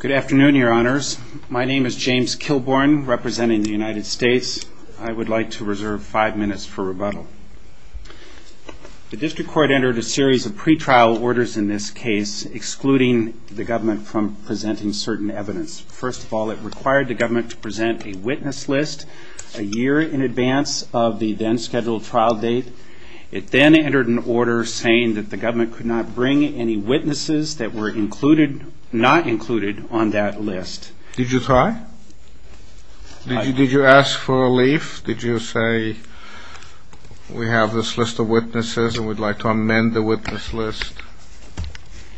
Good afternoon, your honors. My name is James Kilborn, representing the United States. I would like to reserve five minutes for rebuttal. The district court entered a series of pretrial orders in this case, excluding the government from presenting certain evidence. First of all, it required the government to present a witness list a year in advance of the then-scheduled trial date. It then entered an order saying that the government could not bring any witnesses that were not included on that list. Did you try? Did you ask for a relief? Did you say, we have this list of witnesses and we'd like to amend the witness list?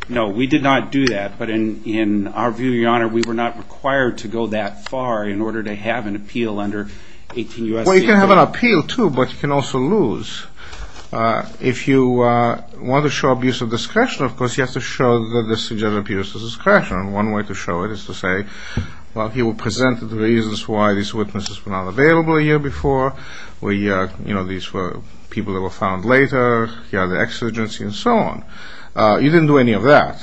No, we did not do that. But in our view, your honor, we were not required to go that far in order to have an appeal under 18 U.S.C.A. Well, you can have an appeal, too, but you can also lose. If you want to show abuse of discretion, of course, you have to show that this is abuse of discretion. One way to show it is to say, well, he will present the reasons why these witnesses were not available a year before. These were people that were found later, the exigency, and so on. You didn't do any of that.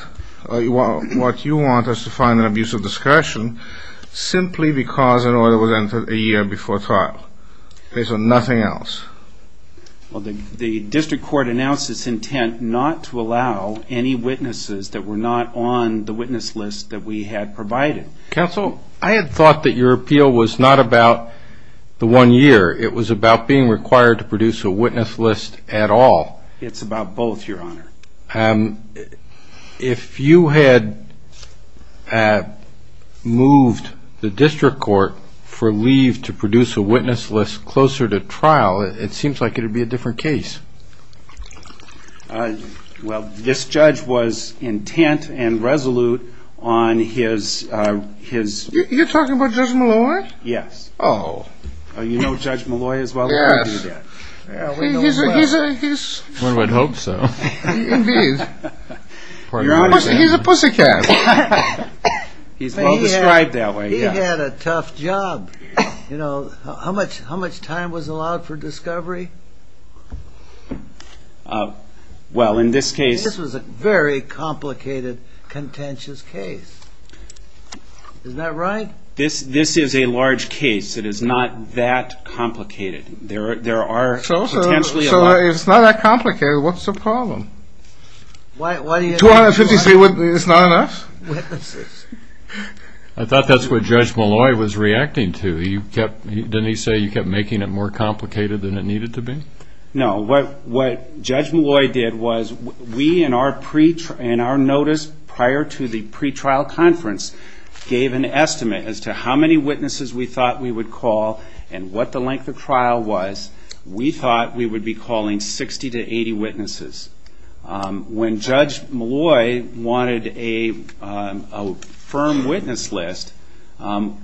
What you want is to find an abuse of discretion simply because an order was entered a year before trial. There's nothing else. Well, the district court announced its intent not to allow any witnesses that were not on the witness list that we had provided. Counsel, I had thought that your appeal was not about the one year. It was about being required to produce a witness list at all. It's about both, your honor. If you had moved the district court for leave to produce a witness list closer to trial, it seems like it would be a different case. Well, this judge was intent and resolute on his... You're talking about Judge Malloy? Yes. Oh. You know Judge Malloy as well? Yes. We know him well. One would hope so. He's a pussycat. He's well described that way. He had a tough job. You know, how much time was allowed for discovery? Well, in this case... This was a very complicated, contentious case. Isn't that right? This is a large case. It is not that complicated. There are potentially a lot... It's not that complicated. What's the problem? 253 witnesses is not enough? I thought that's what Judge Malloy was reacting to. Didn't he say you kept making it more complicated than it needed to be? No. What Judge Malloy did was we, in our notice prior to the pretrial conference, gave an estimate as to how many witnesses we thought we would call and what the length of trial was. We thought we would be calling 60 to 80 witnesses. When Judge Malloy wanted a firm witness list,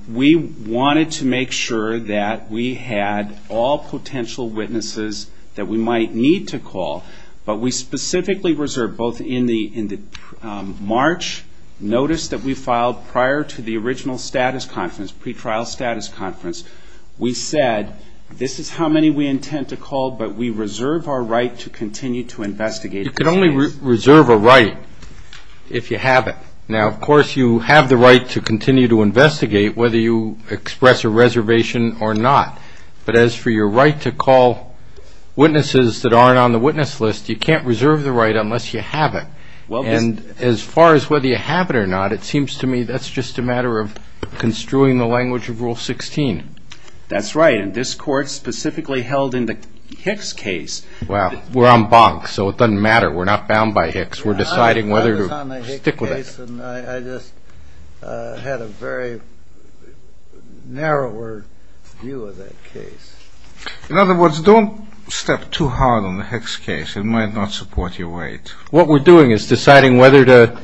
we wanted to make sure that we had all potential witnesses that we might need to call. But we specifically reserved both in the March notice that we filed prior to the original status conference, pretrial status conference, we said, this is how many we intend to call but we reserve our right to continue to investigate the case. You can only reserve a right if you have it. Now, of course, you have the right to continue to investigate whether you express a reservation or not. But as for your right to call witnesses that aren't on the witness list, you can't reserve the right unless you have it. And as far as whether you have it or not, it seems to me that's just a matter of construing the language of Rule 16. That's right. And this Court specifically held in the Hicks case. Well, we're on Bonk, so it doesn't matter. We're not bound by Hicks. We're deciding whether to stick with it. I was on the Hicks case and I just had a very narrower view of that case. In other words, don't step too hard on the Hicks case. It might not support your weight. What we're doing is deciding whether to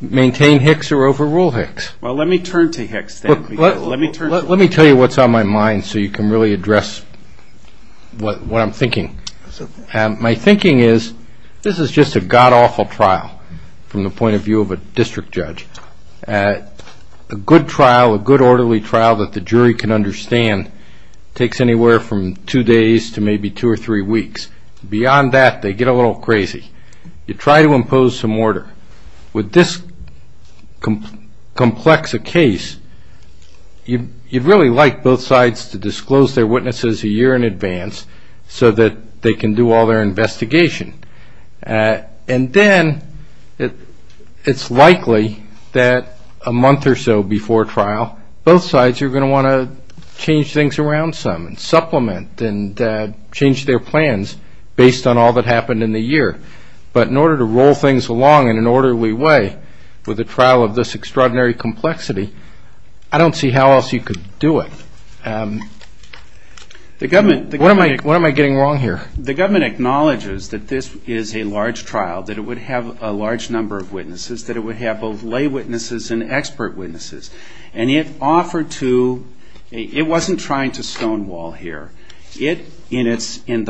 maintain Hicks or overrule Hicks. Well, let me turn to Hicks then. Let me tell you what's on my mind so you can really address what I'm thinking. My thinking is this is just a god-awful trial from the point of view of a district judge. A good trial, a good orderly trial that the jury can understand, takes anywhere from two days to maybe two or three weeks. Beyond that, they get a little crazy. You try to impose some order. With this complex a case, you'd really like both sides to disclose their witnesses a year in advance so that they can do all their investigation. And then it's likely that a month or so before trial, both sides are going to want to change things around some and supplement and change their plans based on all that happened in the year. But in order to roll things along in an orderly way with a trial of this extraordinary complexity, I don't see how else you could do it. What am I getting wrong here? The government acknowledges that this is a large trial, that it would have a large number of witnesses, that it would have both lay witnesses and expert witnesses. It wasn't trying to stonewall here. In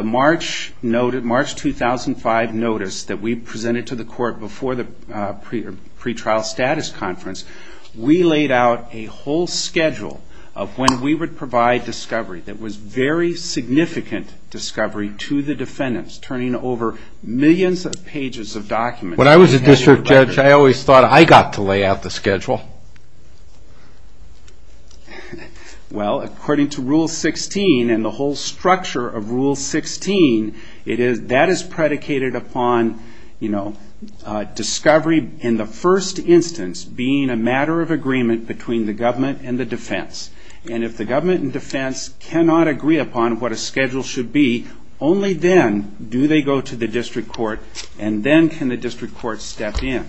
the March 2005 notice that we presented to the court before the pretrial status conference, we laid out a whole schedule of when we would provide discovery that was very significant discovery to the defendants, turning over millions of pages of documents. When I was a district judge, I always thought I got to lay out the schedule. Well, according to Rule 16 and the whole structure of Rule 16, that is predicated upon discovery in the first instance being a matter of agreement between the government and the defense. And if the government and defense cannot agree upon what a schedule should be, only then do they go to the district court and then can the district court step in.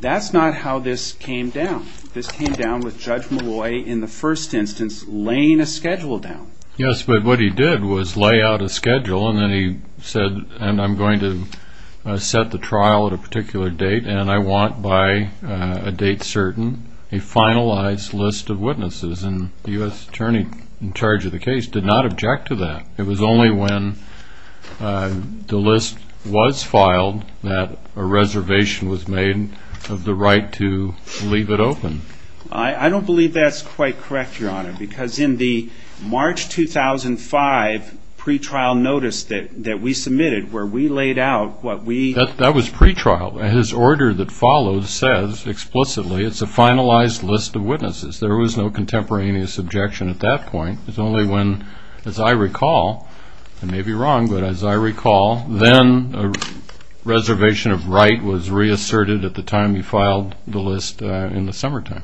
That's not how this came down. This came down with Judge Malloy in the first instance laying a schedule down. Yes, but what he did was lay out a schedule and then he said, and I'm going to set the trial at a particular date and I want by a date certain a finalized list of witnesses. And the U.S. attorney in charge of the case did not object to that. It was only when the list was filed that a reservation was made of the right to leave it open. I don't believe that's quite correct, Your Honor, because in the March 2005 pretrial notice that we submitted where we laid out what we... That was pretrial. His order that follows says explicitly it's a finalized list of witnesses. There was no contemporaneous objection at that point. It's only when, as I recall, I may be wrong, but as I recall then a reservation of right was reasserted at the time he filed the list in the summertime.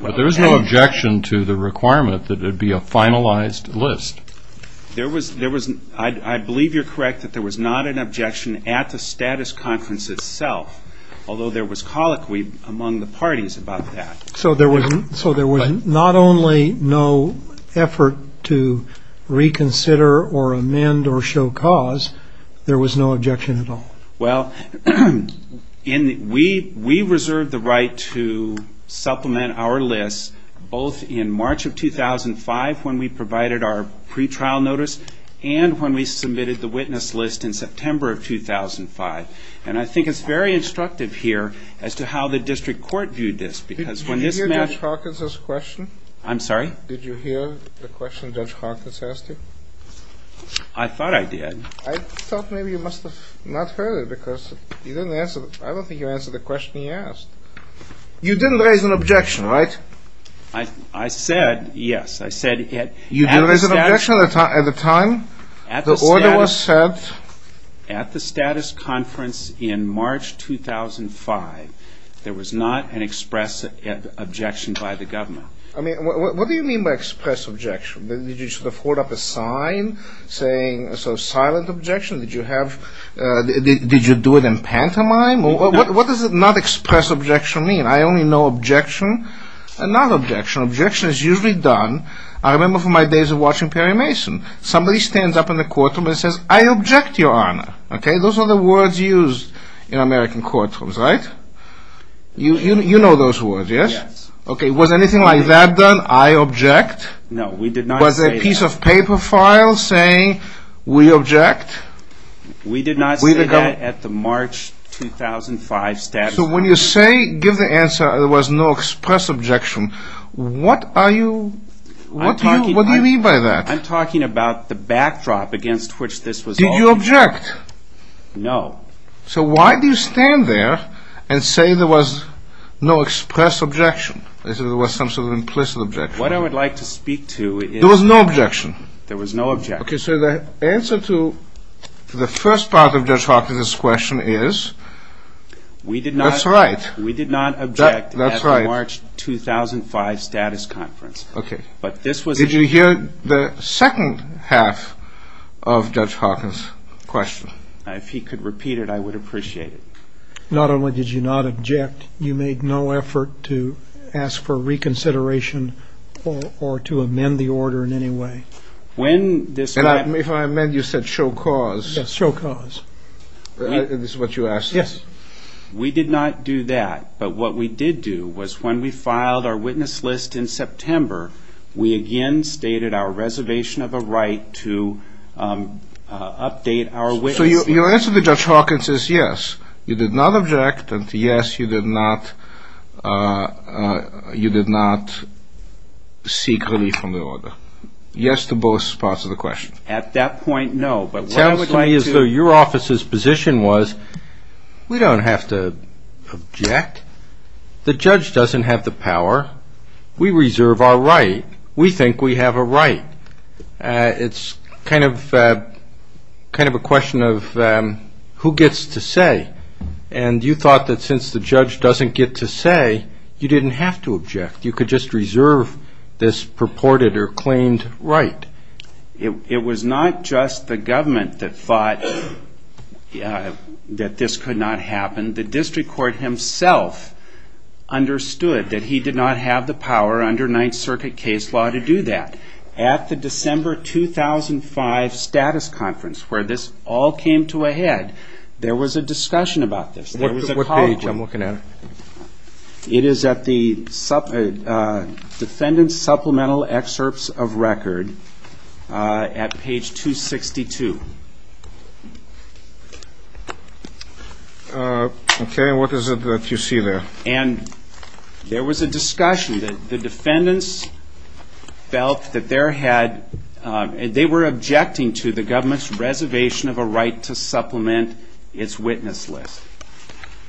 But there was no objection to the requirement that it be a finalized list. I believe you're correct that there was not an objection at the status conference itself, although there was colloquy among the parties about that. So there was not only no effort to reconsider or amend or show cause, there was no objection at all. Well, we reserved the right to supplement our list both in March of 2005 when we provided our pretrial notice and when we submitted the witness list in September of 2005. And I think it's very instructive here as to how the district court viewed this because when this matter... Did you hear Judge Hawkins' question? I'm sorry? Did you hear the question Judge Hawkins asked you? I thought I did. I thought maybe you must have not heard it because I don't think you answered the question he asked. You didn't raise an objection, right? I said yes. You didn't raise an objection at the time? At the status conference in March 2005, there was not an express objection by the government. I mean, what do you mean by express objection? Did you sort of hold up a sign saying, so, silent objection? Did you do it in pantomime? What does not express objection mean? I only know objection and not objection. Objection is usually done. I remember from my days of watching Perry Mason, somebody stands up in the courtroom and says, I object, Your Honor. Okay, those are the words used in American courtrooms, right? You know those words, yes? Yes. Okay, was anything like that done? I object? No, we did not say... Was there a piece of paper file saying, we object? We did not say that at the March 2005... So when you say, give the answer, there was no express objection, what are you... What do you mean by that? I'm talking about the backdrop against which this was all... Did you object? No. So why do you stand there and say there was no express objection, as if there was some sort of implicit objection? What I would like to speak to is... There was no objection? There was no objection. Okay, so the answer to the first part of Judge Hawkins' question is... We did not... That's right. We did not object at the March 2005 status conference. Okay. But this was... Did you hear the second half of Judge Hawkins' question? If he could repeat it, I would appreciate it. Not only did you not object, you made no effort to ask for reconsideration or to amend the order in any way. And if I amend, you said, show cause. Yes, show cause. Is this what you asked? Yes. We did not do that. But what we did do was, when we filed our witness list in September, we again stated our reservation of a right to update our witness list. So your answer to Judge Hawkins is yes, you did not object, and yes, you did not seek relief from the order. Yes to both parts of the question. At that point, no. But what I would like to... It sounds to me as though your office's position was, we don't have to object. The judge doesn't have the power. We reserve our right. We think we have a right. It's kind of a question of who gets to say. And you thought that since the judge doesn't get to say, you didn't have to object. You could just reserve this purported or claimed right. It was not just the government that thought that this could not happen. The district court himself understood that he did not have the power under Ninth Circuit case law to do that. At the December 2005 status conference, where this all came to a head, there was a discussion about this. What page? I'm looking at it. It is at the Defendant's Supplemental Excerpts of Record at page 262. Okay, and what is it that you see there? And there was a discussion that the defendants felt that they were objecting to the government's reservation of a right to supplement its witness list.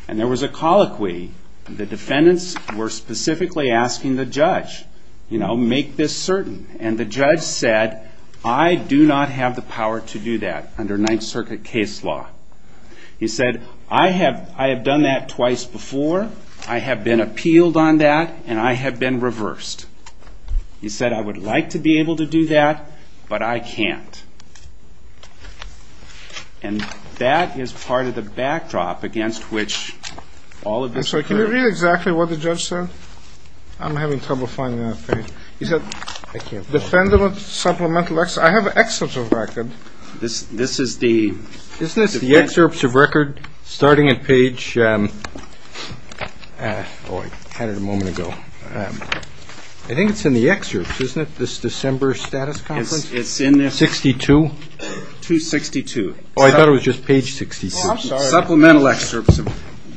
And there was a colloquy. The defendants were specifically asking the judge, you know, make this certain. And the judge said, I do not have the power to do that under Ninth Circuit case law. He said, I have done that twice before. I have been appealed on that, and I have been reversed. He said, I would like to be able to do that, but I can't. And that is part of the backdrop against which all of this occurred. I'm sorry. Can you read exactly what the judge said? I'm having trouble finding that page. He said, Defendant's Supplemental Excerpts. I have excerpts of record. This is the. Isn't this the excerpts of record starting at page. Oh, I had it a moment ago. I think it's in the excerpts, isn't it, this December status conference? It's in there. 262? 262. Oh, I thought it was just page 66. Supplemental excerpts.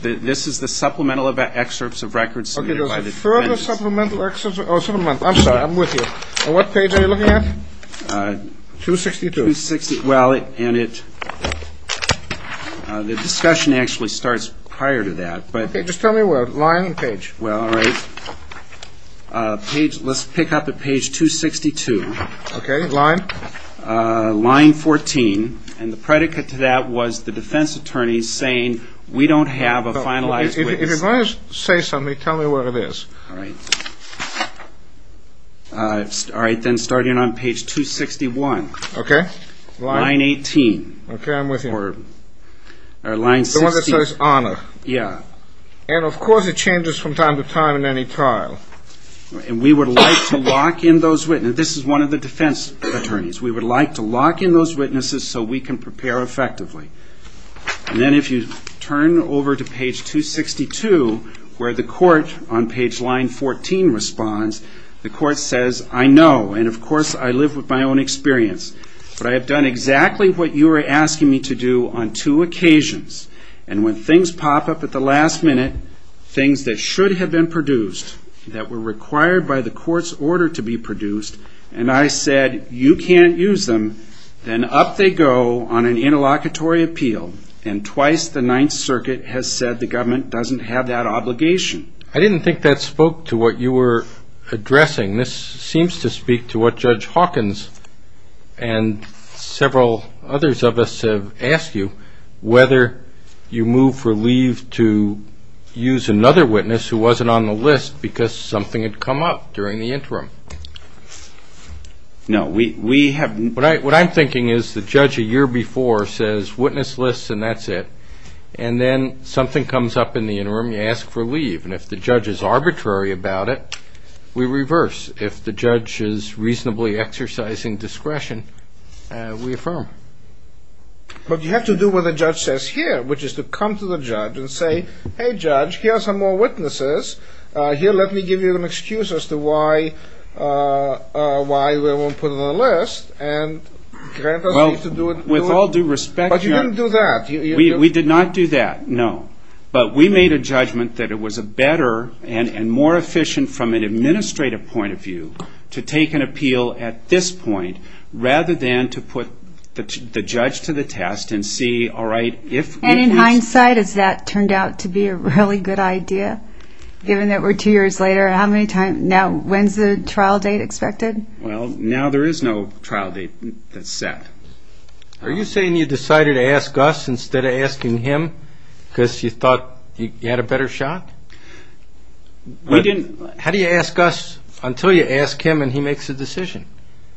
This is the supplemental excerpts of records submitted by the defendants. Okay, there's a further supplemental excerpt. I'm sorry, I'm with you. On what page are you looking at? 262. Well, and the discussion actually starts prior to that. Okay, just tell me where, line or page? Well, all right, let's pick up at page 262. Okay, line. Line 14, and the predicate to that was the defense attorney saying we don't have a finalized witness. If you're going to say something, tell me where it is. All right. All right, then starting on page 261. Okay. Line 18. Okay, I'm with you. Or line 16. The one that says honor. Yeah. And, of course, it changes from time to time in any trial. And we would like to lock in those witnesses. This is one of the defense attorneys. We would like to lock in those witnesses so we can prepare effectively. And then if you turn over to page 262, where the court on page line 14 responds, the court says, I know. And, of course, I live with my own experience. But I have done exactly what you are asking me to do on two occasions. And when things pop up at the last minute, things that should have been produced, that were required by the court's order to be produced, and I said you can't use them, then up they go on an interlocutory appeal. And twice the Ninth Circuit has said the government doesn't have that obligation. I didn't think that spoke to what you were addressing. This seems to speak to what Judge Hawkins and several others of us have asked you, whether you move for leave to use another witness who wasn't on the list because something had come up during the interim. No. What I'm thinking is the judge a year before says witness lists and that's it. And then something comes up in the interim, you ask for leave. And if the judge is arbitrary about it, we reverse. If the judge is reasonably exercising discretion, we affirm. But you have to do what the judge says here, which is to come to the judge and say, hey, judge, here are some more witnesses. Here, let me give you an excuse as to why we won't put them on the list. And grant us leave to do it. Well, with all due respect, Judge. But you didn't do that. We did not do that, no. But we made a judgment that it was a better and more efficient from an administrative point of view to take an appeal at this point rather than to put the judge to the test and see, all right, if we can. And in hindsight, has that turned out to be a really good idea, given that we're two years later? How many times now? When's the trial date expected? Well, now there is no trial date that's set. Are you saying you decided to ask us instead of asking him because you thought you had a better shot? How do you ask us until you ask him and he makes a decision?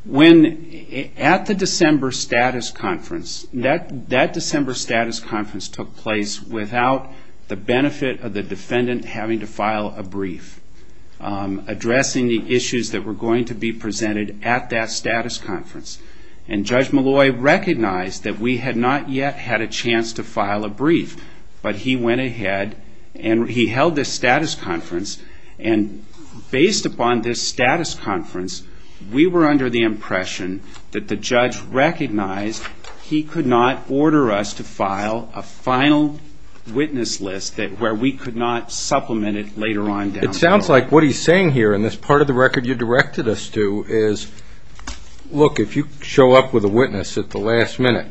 When at the December status conference, that December status conference took place without the benefit of the defendant having to file a brief addressing the issues that were going to be presented at that status conference. And Judge Malloy recognized that we had not yet had a chance to file a brief. But he went ahead and he held this status conference, and based upon this status conference, we were under the impression that the judge recognized he could not order us to file a final witness list where we could not supplement it later on down the road. It sounds like what he's saying here in this part of the record you directed us to is, look, if you show up with a witness at the last minute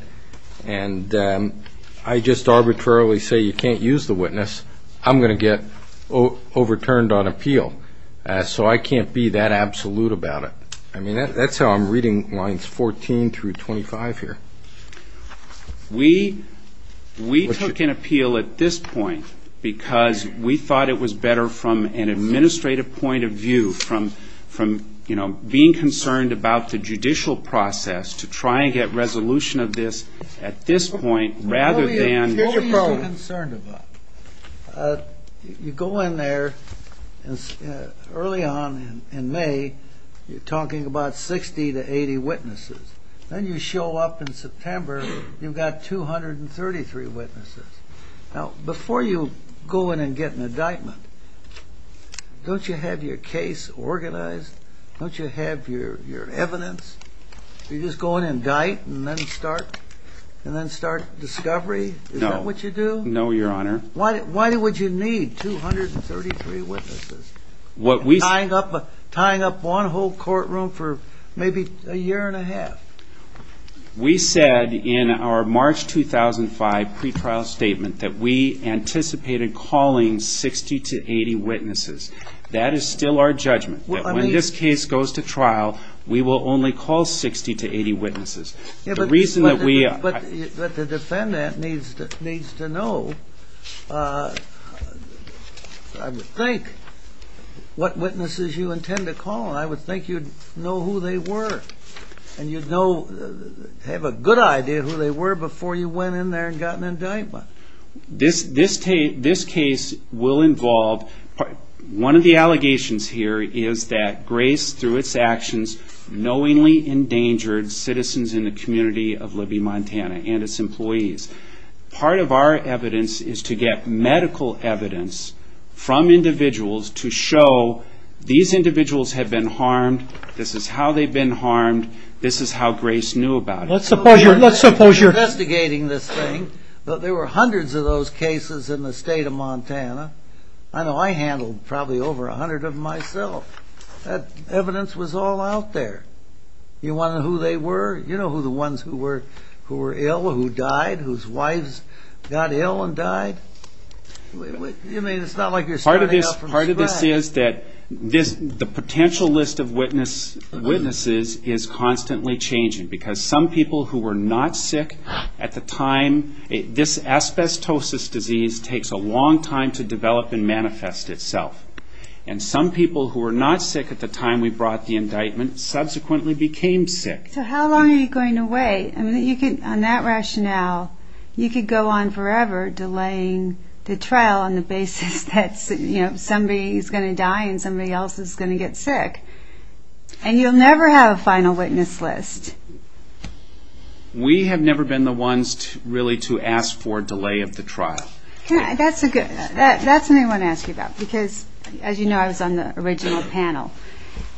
and I just arbitrarily say you can't use the witness, I'm going to get overturned on appeal. So I can't be that absolute about it. I mean, that's how I'm reading lines 14 through 25 here. We took an appeal at this point because we thought it was better from an administrative point of view, from being concerned about the judicial process to trying to get resolution of this at this point rather than What were you so concerned about? You go in there early on in May, you're talking about 60 to 80 witnesses. Then you show up in September, you've got 233 witnesses. Now, before you go in and get an indictment, don't you have your case organized? Don't you have your evidence? Do you just go in and indict and then start discovery? Is that what you do? No, Your Honor. Why would you need 233 witnesses? Tying up one whole courtroom for maybe a year and a half. We said in our March 2005 pretrial statement that we anticipated calling 60 to 80 witnesses. That is still our judgment. When this case goes to trial, we will only call 60 to 80 witnesses. But the defendant needs to know, I would think, what witnesses you intend to call. I would think you'd know who they were. And you'd have a good idea who they were before you went in there and got an indictment. This case will involve... One of the allegations here is that Grace, through its actions, knowingly endangered citizens in the community of Libby, Montana and its employees. Part of our evidence is to get medical evidence from individuals to show these individuals have been harmed, this is how they've been harmed, this is how Grace knew about it. Let's suppose you're investigating this thing. There were hundreds of those cases in the state of Montana. I know I handled probably over 100 of them myself. That evidence was all out there. You wanted to know who they were? You know who the ones who were ill or who died, whose wives got ill and died? It's not like you're starting out from scratch. Part of this is that the potential list of witnesses is constantly changing. Because some people who were not sick at the time... This asbestosis disease takes a long time to develop and manifest itself. And some people who were not sick at the time we brought the indictment subsequently became sick. So how long are you going to wait? On that rationale, you could go on forever delaying the trial on the basis that somebody is going to die and somebody else is going to get sick. And you'll never have a final witness list. We have never been the ones really to ask for a delay of the trial. That's something I want to ask you about. Because, as you know, I was on the original panel.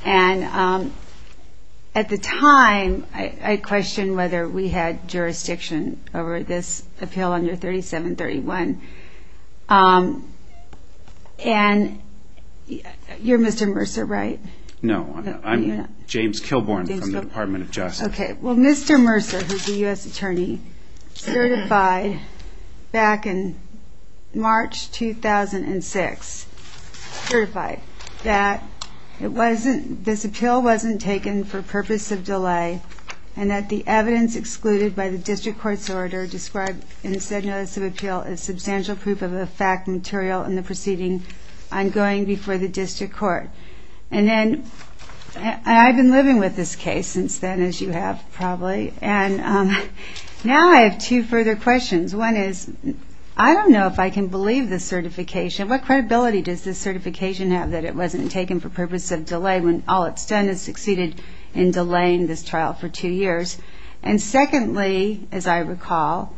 And at the time, I questioned whether we had jurisdiction over this appeal under 3731. And you're Mr. Mercer, right? No, I'm James Kilbourn from the Department of Justice. Well, Mr. Mercer, who is a U.S. attorney, certified back in March 2006, certified that this appeal wasn't taken for purpose of delay and that the evidence excluded by the district court's order described in the said notice of appeal is substantial proof of a fact material in the proceeding ongoing before the district court. And I've been living with this case since then, as you have probably. And now I have two further questions. One is, I don't know if I can believe this certification. What credibility does this certification have that it wasn't taken for purpose of delay when all it's done is succeeded in delaying this trial for two years? And secondly, as I recall,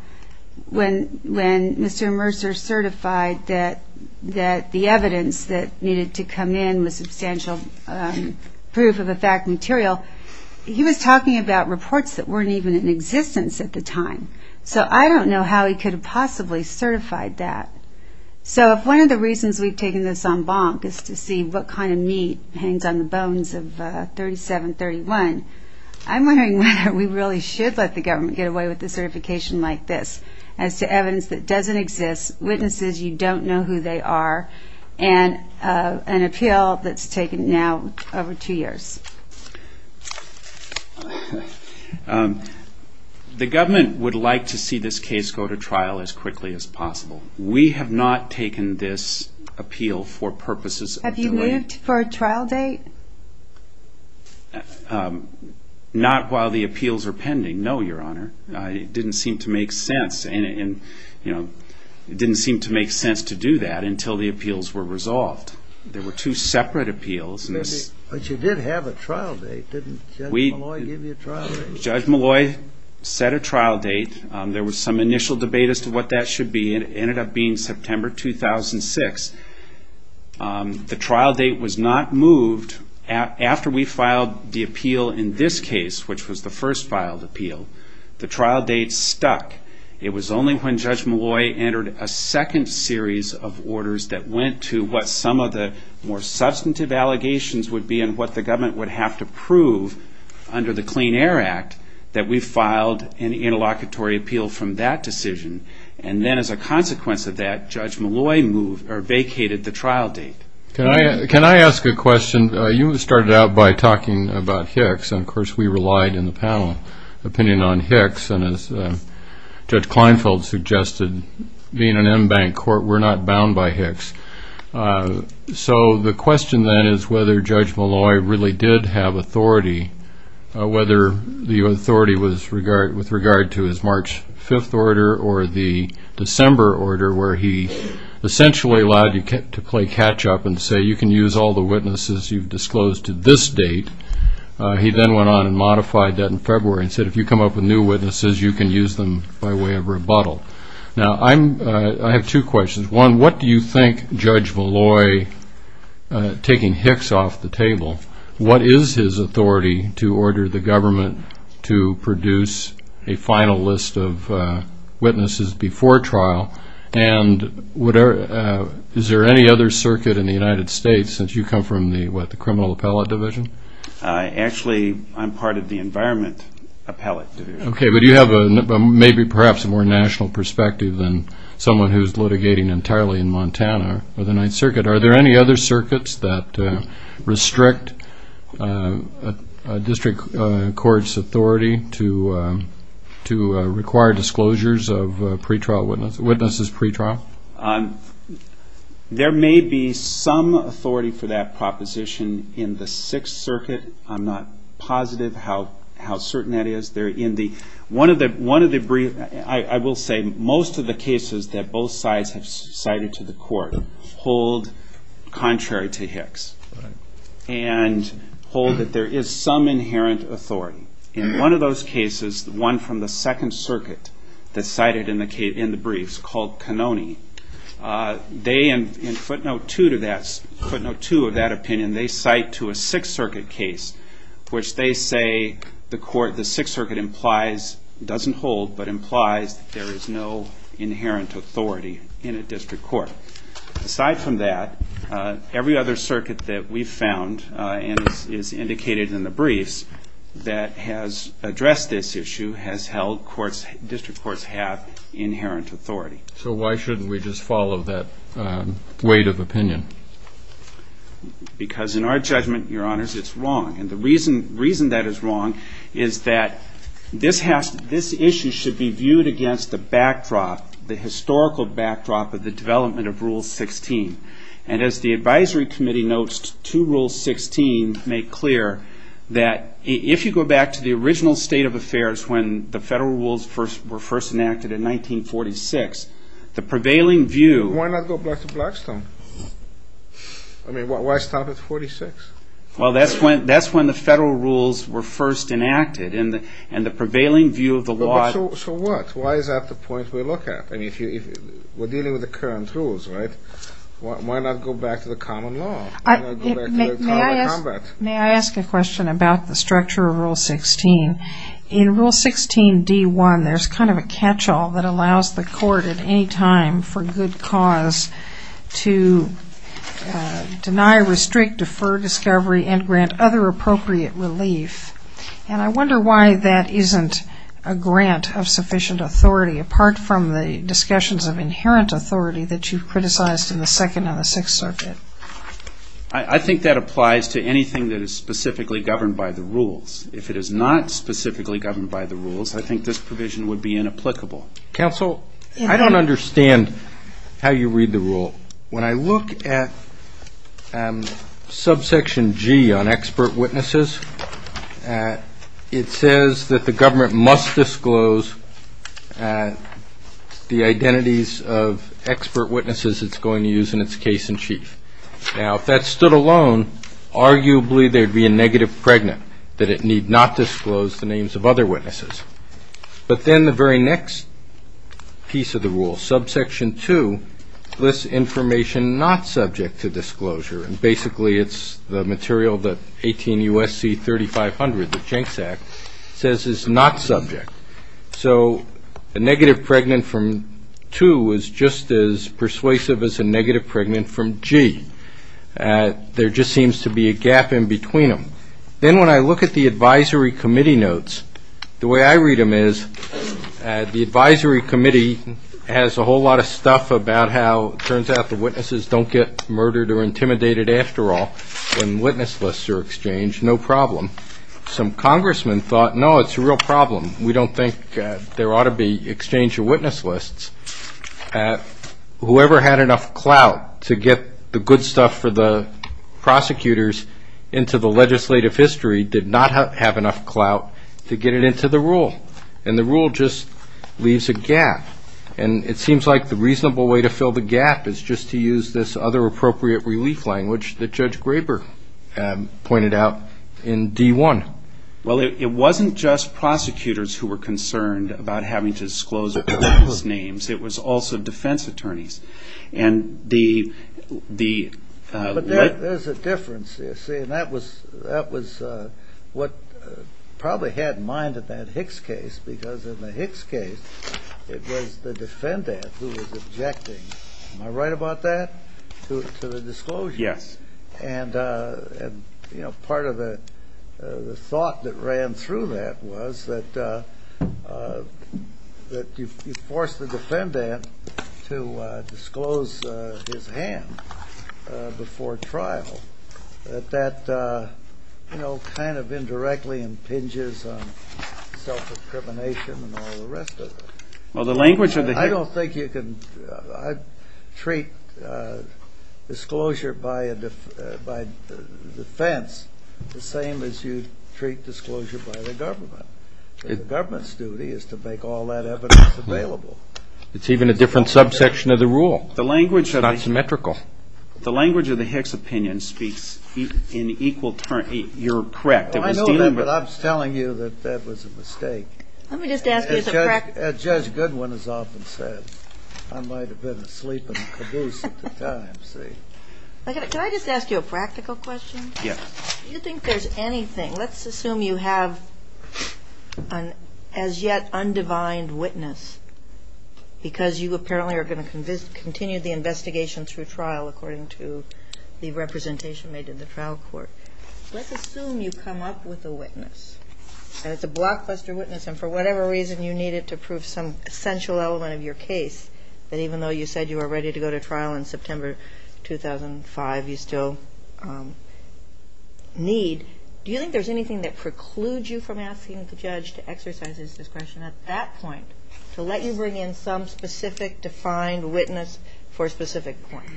when Mr. Mercer certified that the evidence that needed to come in was substantial proof of a fact material, he was talking about reports that weren't even in existence at the time. So I don't know how he could have possibly certified that. So if one of the reasons we've taken this en banc is to see what kind of meat hangs on the bones of 3731, I'm wondering whether we really should let the government get away with a certification like this as to evidence that doesn't exist, witnesses you don't know who they are, and an appeal that's taken now over two years. The government would like to see this case go to trial as quickly as possible. We have not taken this appeal for purposes of delay. Have you moved for a trial date? Not while the appeals are pending, no, Your Honor. It didn't seem to make sense to do that until the appeals were resolved. There were two separate appeals. But you did have a trial date. Didn't Judge Malloy give you a trial date? Judge Malloy set a trial date. There was some initial debate as to what that should be, and it ended up being September 2006. The trial date was not moved after we filed the appeal in this case, which was the first filed appeal. The trial date stuck. It was only when Judge Malloy entered a second series of orders that went to what some of the more substantive allegations would be and what the government would have to prove under the Clean Air Act that we filed an interlocutory appeal from that decision. And then as a consequence of that, Judge Malloy vacated the trial date. Can I ask a question? You started out by talking about Hicks, and, of course, we relied in the panel opinion on Hicks. And as Judge Kleinfeld suggested, being an embanked court, we're not bound by Hicks. So the question then is whether Judge Malloy really did have authority, whether the authority was with regard to his March 5th order or the December order, where he essentially allowed you to play catch-up and say, you can use all the witnesses you've disclosed to this date. He then went on and modified that in February and said, if you come up with new witnesses, you can use them by way of rebuttal. Now, I have two questions. One, what do you think Judge Malloy, taking Hicks off the table, what is his authority to order the government to produce a final list of witnesses before trial? And is there any other circuit in the United States since you come from the, what, the Criminal Appellate Division? Actually, I'm part of the Environment Appellate Division. Okay, but you have maybe perhaps a more national perspective than someone who's litigating entirely in Montana or the Ninth Circuit. Are there any other circuits that restrict a district court's authority to require disclosures of witnesses pretrial? There may be some authority for that proposition in the Sixth Circuit. I'm not positive how certain that is. One of the briefs, I will say, most of the cases that both sides have cited to the court hold contrary to Hicks and hold that there is some inherent authority. In one of those cases, one from the Second Circuit, that's cited in the briefs called Canoni, they, in footnote two of that opinion, they cite to a Sixth Circuit case which they say the Sixth Circuit implies, doesn't hold, but implies that there is no inherent authority in a district court. Aside from that, every other circuit that we've found, and is indicated in the briefs that has addressed this issue, has held district courts have inherent authority. Because in our judgment, Your Honors, it's wrong. And the reason that is wrong is that this issue should be viewed against the backdrop, the historical backdrop of the development of Rule 16. And as the Advisory Committee notes to Rule 16, make clear that if you go back to the original state of affairs when the federal rules were first enacted in 1946, the prevailing view... Why not go back to Blackstone? I mean, why stop at 46? Well, that's when the federal rules were first enacted, and the prevailing view of the law... So what? Why is that the point we look at? I mean, we're dealing with the current rules, right? Why not go back to the common law? Why not go back to the common combat? May I ask a question about the structure of Rule 16? In Rule 16d-1, there's kind of a catch-all that allows the court at any time for good cause to deny, restrict, defer discovery, and grant other appropriate relief. And I wonder why that isn't a grant of sufficient authority, apart from the discussions of inherent authority that you've criticized in the Second and the Sixth Circuit. If it is not specifically governed by the rules, I think this provision would be inapplicable. Counsel, I don't understand how you read the rule. When I look at subsection G on expert witnesses, it says that the government must disclose the identities of expert witnesses it's going to use in its case-in-chief. Now, if that stood alone, arguably there'd be a negative pregnant, that it need not disclose the names of other witnesses. But then the very next piece of the rule, subsection 2, lists information not subject to disclosure, and basically it's the material that 18 U.S.C. 3500, the Jencks Act, says is not subject. So a negative pregnant from 2 is just as persuasive as a negative pregnant from G. There just seems to be a gap in between them. Then when I look at the advisory committee notes, the way I read them is the advisory committee has a whole lot of stuff about how, it turns out the witnesses don't get murdered or intimidated after all when witness lists are exchanged, no problem. Some congressmen thought, no, it's a real problem. We don't think there ought to be exchange of witness lists. Whoever had enough clout to get the good stuff for the prosecutors into the legislative history did not have enough clout to get it into the rule, and the rule just leaves a gap. And it seems like the reasonable way to fill the gap is just to use this other appropriate relief language that Judge Graper pointed out in D-1. Well, it wasn't just prosecutors who were concerned about having to disclose witness names. It was also defense attorneys. But there's a difference there, see, and that was what probably had in mind in that Hicks case because in the Hicks case it was the defendant who was objecting. Am I right about that, to the disclosure? Yes. And, you know, part of the thought that ran through that was that you forced the defendant to disclose his hand before trial. That that, you know, kind of indirectly impinges on self-discrimination and all the rest of it. I don't think you can treat disclosure by defense the same as you treat disclosure by the government. The government's duty is to make all that evidence available. It's even a different subsection of the rule. It's not symmetrical. The language of the Hicks opinion speaks in equal terms. You're correct. I know that, but I'm telling you that that was a mistake. Judge Goodwin has often said, I might have been asleep in a caboose at the time, see. Can I just ask you a practical question? Yes. Do you think there's anything, let's assume you have an as yet undivined witness because you apparently are going to continue the investigation through trial according to the representation made in the trial court. Let's assume you come up with a witness. And it's a blockbuster witness. And for whatever reason, you need it to prove some essential element of your case that even though you said you were ready to go to trial in September 2005, you still need. Do you think there's anything that precludes you from asking the judge to exercise his discretion at that point to let you bring in some specific defined witness for a specific point?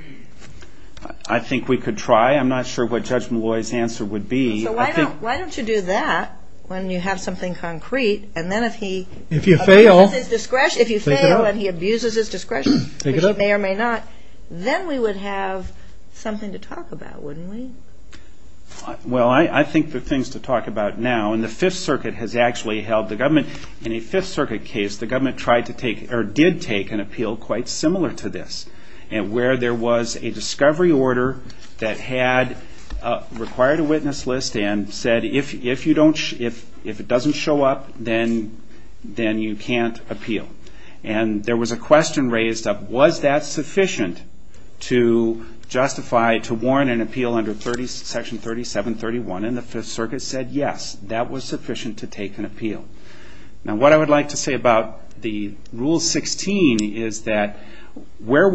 I think we could try. I'm not sure what Judge Malloy's answer would be. So why don't you do that when you have something concrete, and then if he abuses his discretion, if you fail and he abuses his discretion, which he may or may not, then we would have something to talk about, wouldn't we? Well, I think there are things to talk about now. And the Fifth Circuit has actually held the government. In a Fifth Circuit case, the government did take an appeal quite similar to this where there was a discovery order that had required a witness list and said, if it doesn't show up, then you can't appeal. And there was a question raised up, was that sufficient to justify, to warrant an appeal under Section 3731? And the Fifth Circuit said, yes, that was sufficient to take an appeal. Now, what I would like to say about the Rule 16 is that where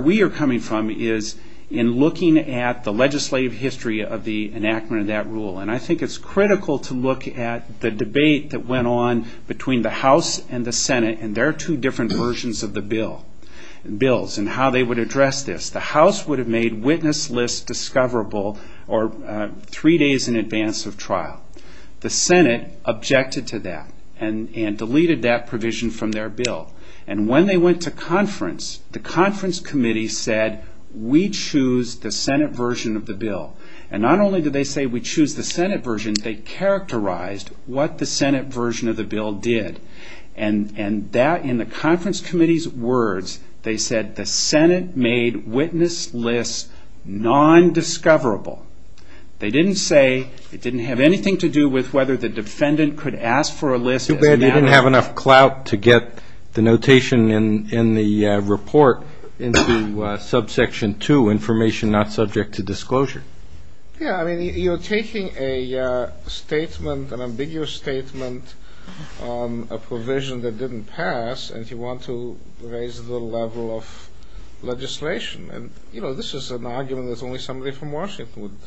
we are coming from is in looking at the legislative history of the enactment of that rule. And I think it's critical to look at the debate that went on between the House and the Senate, and there are two different versions of the bills and how they would address this. The House would have made witness lists discoverable three days in advance of trial. The Senate objected to that and deleted that provision from their bill. And when they went to conference, the conference committee said, we choose the Senate version of the bill. And not only did they say, we choose the Senate version, they characterized what the Senate version of the bill did. And that, in the conference committee's words, they said, the Senate made witness lists non-discoverable. They didn't say, it didn't have anything to do with whether the defendant could ask for a list. It's too bad you didn't have enough clout to get the notation in the report into subsection 2, information not subject to disclosure. Yeah, I mean, you're taking a statement, an ambiguous statement, a provision that didn't pass, and you want to raise the level of legislation. And, you know, this is an argument that only somebody from Washington would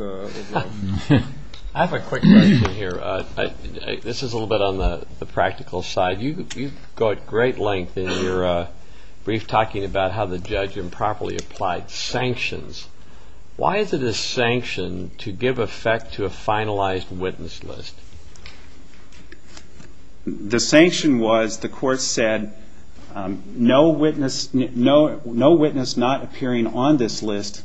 love. I have a quick question here. This is a little bit on the practical side. You go at great length in your brief talking about how the judge improperly applied sanctions. Why is it a sanction to give effect to a finalized witness list? The sanction was, the court said, no witness not appearing on this list,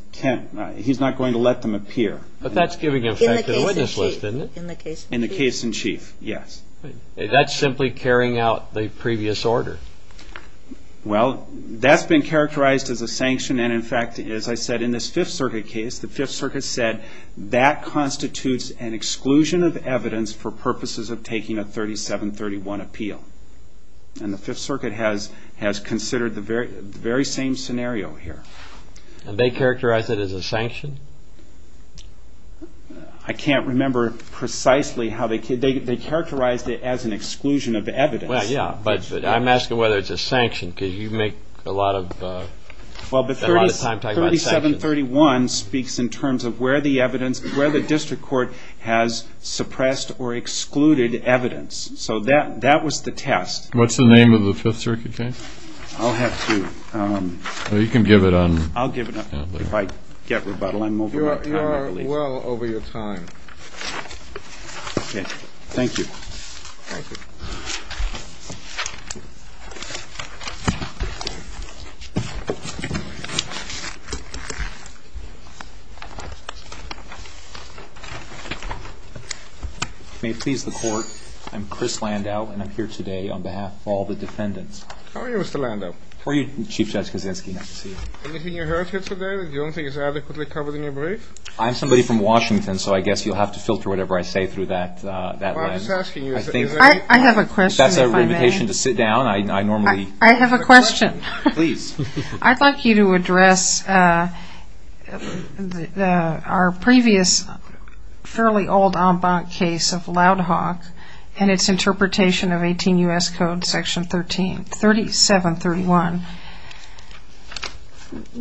he's not going to let them appear. But that's giving effect to the witness list, isn't it? In the case in chief. In the case in chief, yes. That's simply carrying out the previous order. Well, that's been characterized as a sanction, and in fact, as I said, in this Fifth Circuit case, the Fifth Circuit said that constitutes an exclusion of evidence for purposes of taking a 3731 appeal. And the Fifth Circuit has considered the very same scenario here. And they characterized it as a sanction? I can't remember precisely how they characterized it as an exclusion of evidence. Well, yeah, but I'm asking whether it's a sanction, because you make a lot of time talking about sanctions. 3731 speaks in terms of where the evidence, where the district court has suppressed or excluded evidence. So that was the test. What's the name of the Fifth Circuit case? I'll have to. You can give it on. I'll give it on. If I get rebuttal, I'm over time, I believe. You are well over your time. Thank you. Thank you. Thank you. If you may please the court, I'm Chris Landau, and I'm here today on behalf of all the defendants. How are you, Mr. Landau? How are you, Chief Judge Kaczynski? Nice to see you. Anything you heard here today that you don't think is adequately covered in your brief? I'm somebody from Washington, so I guess you'll have to filter whatever I say through that lens. I have a question, if I may. If that's an invitation to sit down, I normally. I have a question. Please. I'd like you to address our previous fairly old en banc case of Loud Hawk and its interpretation of 18 U.S. Code Section 3731.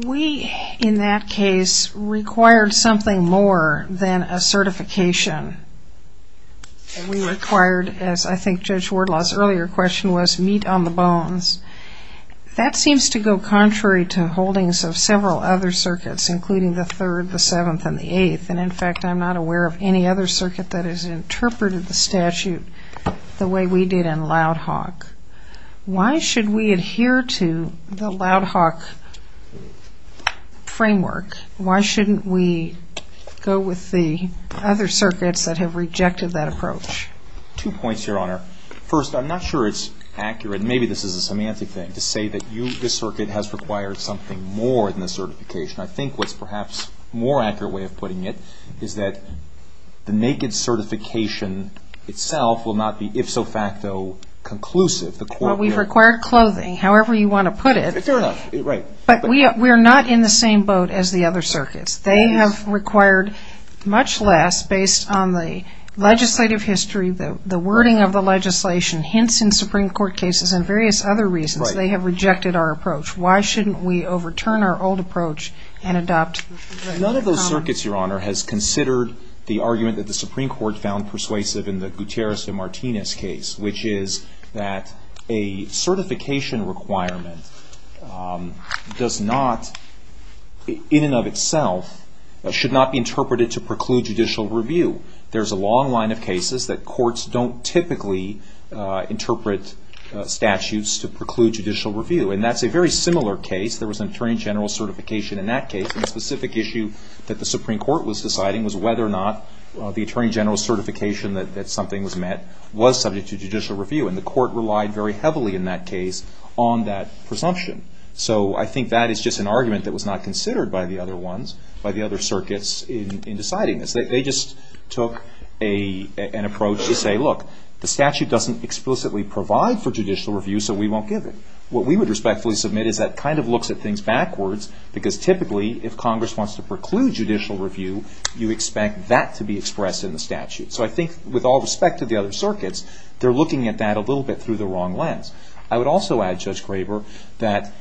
We, in that case, required something more than a certification. We required, as I think Judge Wardlaw's earlier question was, meat on the bones. That seems to go contrary to holdings of several other circuits, including the third, the seventh, and the eighth. And, in fact, I'm not aware of any other circuit that has interpreted the statute the way we did in Loud Hawk. Why should we adhere to the Loud Hawk framework? Why shouldn't we go with the other circuits that have rejected that approach? Two points, Your Honor. First, I'm not sure it's accurate. Maybe this is a semantic thing to say that this circuit has required something more than a certification. I think what's perhaps a more accurate way of putting it is that the naked certification itself will not be, if so facto, conclusive. Well, we've required clothing, however you want to put it. Fair enough. Right. But we are not in the same boat as the other circuits. They have required much less, based on the legislative history, the wording of the legislation, hints in Supreme Court cases and various other reasons. Right. They have rejected our approach. Why shouldn't we overturn our old approach and adopt the common? None of those circuits, Your Honor, has considered the argument that the Supreme Court found persuasive in the Gutierrez-de-Martinez case, which is that a certification requirement does not, in and of itself, should not be interpreted to preclude judicial review. There's a long line of cases that courts don't typically interpret statutes to preclude judicial review. And that's a very similar case. There was an attorney general certification in that case. And the specific issue that the Supreme Court was deciding was whether or not the attorney general certification that something was met was subject to judicial review. And the court relied very heavily in that case on that presumption. So I think that is just an argument that was not considered by the other ones, by the other circuits, in deciding this. They just took an approach to say, look, the statute doesn't explicitly provide for judicial review, so we won't give it. What we would respectfully submit is that kind of looks at things backwards, because typically, if Congress wants to preclude judicial review, you expect that to be expressed in the statute. So I think, with all respect to the other circuits, they're looking at that a little bit through the wrong lens. I would also add, Judge Graber, that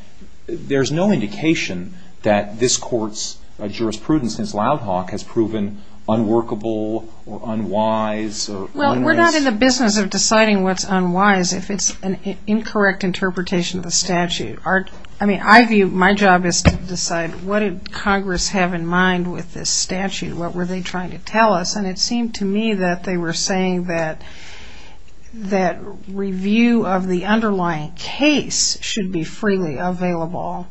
there's no indication that this court's jurisprudence, since Loud Hawk, has proven unworkable or unwise or unwise. Well, we're not in the business of deciding what's unwise if it's an incorrect interpretation of the statute. I mean, I view my job is to decide what did Congress have in mind with this statute? What were they trying to tell us? And it seemed to me that they were saying that review of the underlying case should be freely available.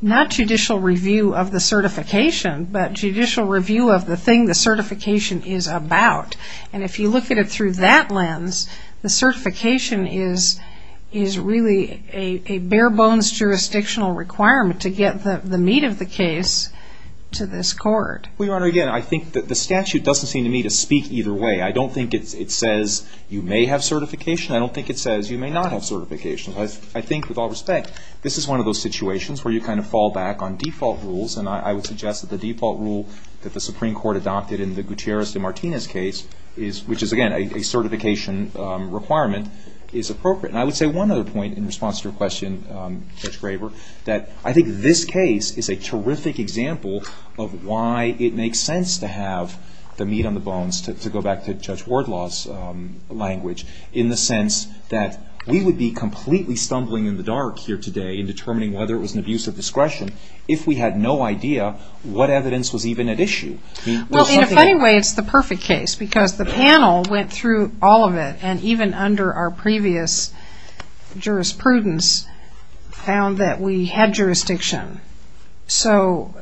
Not judicial review of the certification, but judicial review of the thing the certification is about. And if you look at it through that lens, the certification is really a bare-bones jurisdictional requirement to get the meat of the case to this court. Well, Your Honor, again, I think that the statute doesn't seem to me to speak either way. I don't think it says you may have certification. I don't think it says you may not have certification. I think, with all respect, this is one of those situations where you kind of fall back on default rules. And I would suggest that the default rule that the Supreme Court adopted in the Gutierrez de Martinez case, which is, again, a certification requirement, is appropriate. And I would say one other point in response to your question, Judge Graber, that I think this case is a terrific example of why it makes sense to have the meat on the bones, to go back to Judge Wardlaw's language, in the sense that we would be completely stumbling in the dark here today in determining whether it was an abuse of discretion if we had no idea what evidence was even at issue. Well, in a funny way, it's the perfect case because the panel went through all of it, and even under our previous jurisprudence, found that we had jurisdiction. So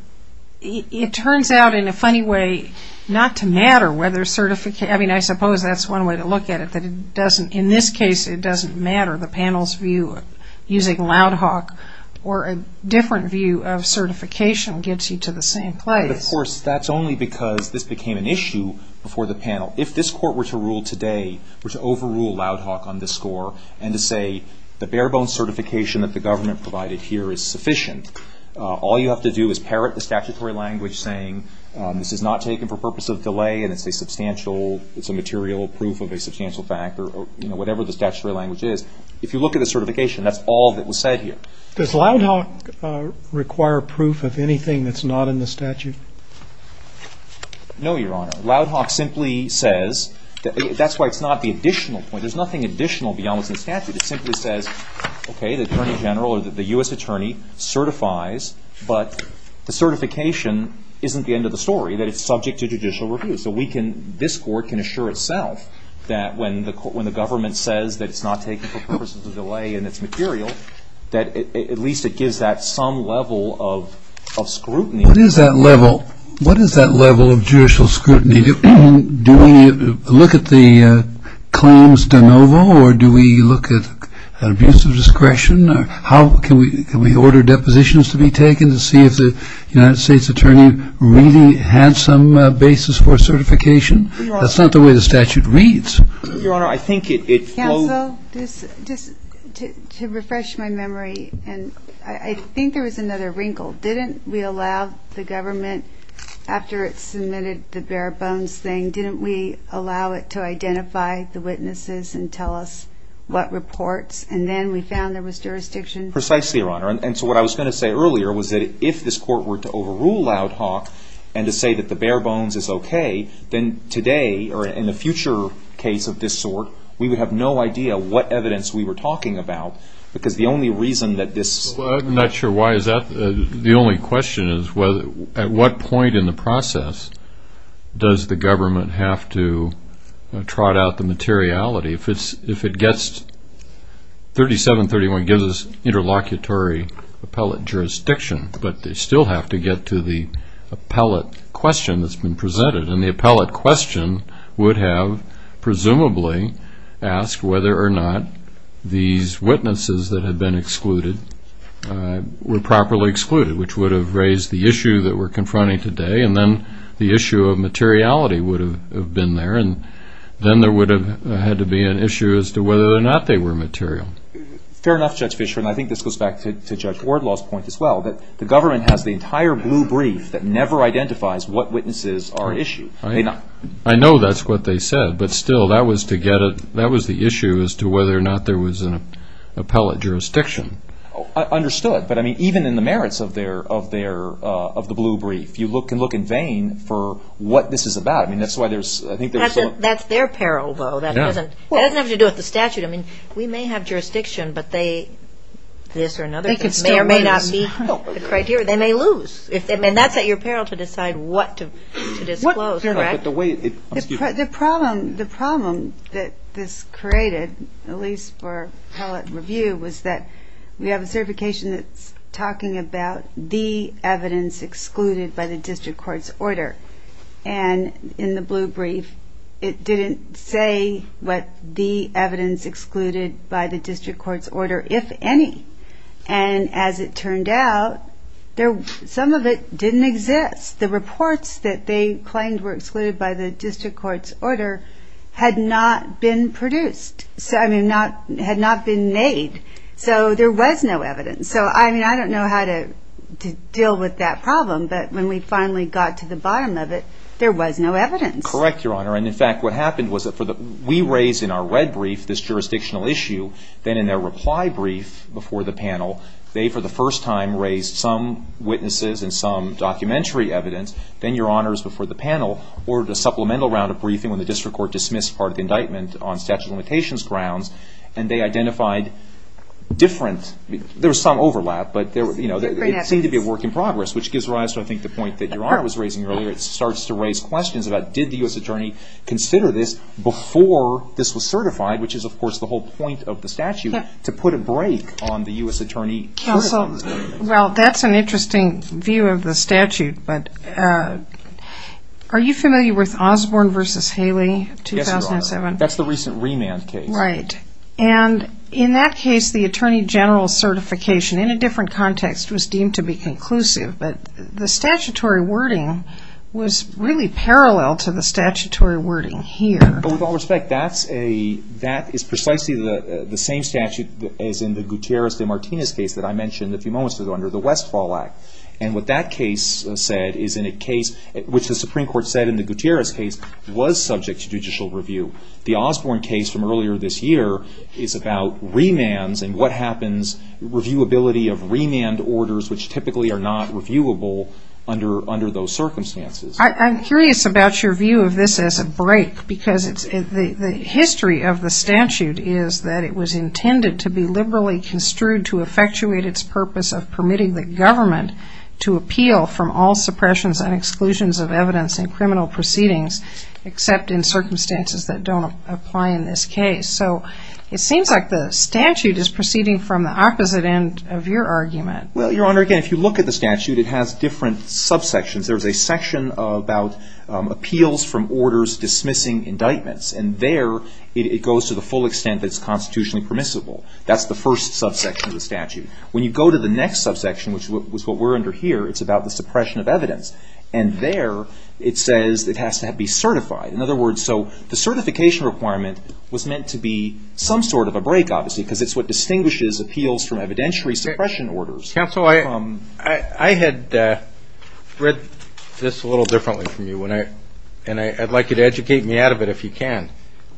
it turns out, in a funny way, not to matter whether certification – I mean, I suppose that's one way to look at it, that it doesn't – in this case, it doesn't matter. The panel's view, using Loud Hawk or a different view of certification, gets you to the same place. But, of course, that's only because this became an issue before the panel. If this Court were to rule today, were to overrule Loud Hawk on this score, and to say the bare-bones certification that the government provided here is sufficient, all you have to do is parrot the statutory language saying this is not taken for purpose of delay and it's a substantial – it's a material proof of a substantial fact, or whatever the statutory language is. If you look at the certification, that's all that was said here. Does Loud Hawk require proof of anything that's not in the statute? No, Your Honor. Loud Hawk simply says – that's why it's not the additional point. There's nothing additional beyond what's in the statute. It simply says, okay, the Attorney General or the U.S. Attorney certifies, but the certification isn't the end of the story, that it's subject to judicial review. So we can – this Court can assure itself that when the government says that it's not taken for purpose of delay and it's material, that at least it gives that some level of scrutiny. What is that level? What is that level of judicial scrutiny? Do we look at the claims de novo, or do we look at abuse of discretion? How can we order depositions to be taken to see if the United States Attorney really had some basis for certification? That's not the way the statute reads. Your Honor, I think it – Counsel, just to refresh my memory, and I think there was another wrinkle. Didn't we allow the government, after it submitted the bare bones thing, didn't we allow it to identify the witnesses and tell us what reports? And then we found there was jurisdiction. Precisely, Your Honor. And so what I was going to say earlier was that if this Court were to overrule Loud Hawk and to say that the bare bones is okay, then today, or in the future case of this sort, we would have no idea what evidence we were talking about because the only reason that this – Well, I'm not sure why is that. The only question is at what point in the process does the government have to trot out the materiality? If it gets – 3731 gives us interlocutory appellate jurisdiction, but they still have to get to the appellate question that's been presented, and the appellate question would have presumably asked whether or not these witnesses that had been excluded were properly excluded, which would have raised the issue that we're confronting today, and then the issue of materiality would have been there, and then there would have had to be an issue as to whether or not they were material. Fair enough, Judge Fischer, and I think this goes back to Judge Wardlaw's point as well, that the government has the entire blue brief that never identifies what witnesses are issued. I know that's what they said, but still that was the issue as to whether or not there was an appellate jurisdiction. I understood, but, I mean, even in the merits of the blue brief, you can look in vain for what this is about. I mean, that's why there's – That's their peril, though. It doesn't have to do with the statute. I mean, we may have jurisdiction, but this or another may or may not be – The criteria. They may lose. I mean, that's at your peril to decide what to disclose, correct? The problem that this created, at least for appellate review, was that we have a certification that's talking about the evidence excluded by the district court's order, and in the blue brief it didn't say what the evidence excluded by the district court's order, if any, and as it turned out, some of it didn't exist. The reports that they claimed were excluded by the district court's order had not been produced. I mean, had not been made. So there was no evidence. So, I mean, I don't know how to deal with that problem, but when we finally got to the bottom of it, there was no evidence. Correct, Your Honor. And, in fact, what happened was that we raise in our red brief this jurisdictional issue, then in their reply brief before the panel, they, for the first time, raised some witnesses and some documentary evidence, then, Your Honors, before the panel, ordered a supplemental round of briefing when the district court dismissed part of the indictment on statute of limitations grounds, and they identified different – there was some overlap, but it seemed to be a work in progress, which gives rise to, I think, the point that Your Honor was raising earlier. It starts to raise questions about did the U.S. attorney consider this before this was certified, which is, of course, the whole point of the statute, to put a brake on the U.S. attorney. Counsel, well, that's an interesting view of the statute, but are you familiar with Osborne v. Haley, 2007? Yes, Your Honor. That's the recent remand case. Right. And in that case, the attorney general's certification in a different context was deemed to be conclusive, but the statutory wording was really parallel to the statutory wording here. Well, with all respect, that is precisely the same statute as in the Gutierrez v. Martinez case that I mentioned a few moments ago under the Westfall Act. And what that case said is in a case which the Supreme Court said in the Gutierrez case was subject to judicial review. The Osborne case from earlier this year is about remands and what happens, reviewability of remand orders which typically are not reviewable under those circumstances. I'm curious about your view of this as a break because the history of the statute is that it was intended to be liberally construed to effectuate its purpose of permitting the government to appeal from all suppressions and exclusions of evidence in criminal proceedings except in circumstances that don't apply in this case. So it seems like the statute is proceeding from the opposite end of your argument. Well, Your Honor, again, if you look at the statute, it has different subsections. There's a section about appeals from orders dismissing indictments. And there it goes to the full extent that's constitutionally permissible. That's the first subsection of the statute. When you go to the next subsection, which is what we're under here, it's about the suppression of evidence. And there it says it has to be certified. In other words, so the certification requirement was meant to be some sort of a break, obviously, because it's what distinguishes appeals from evidentiary suppression orders. Counsel, I had read this a little differently from you, and I'd like you to educate me out of it if you can.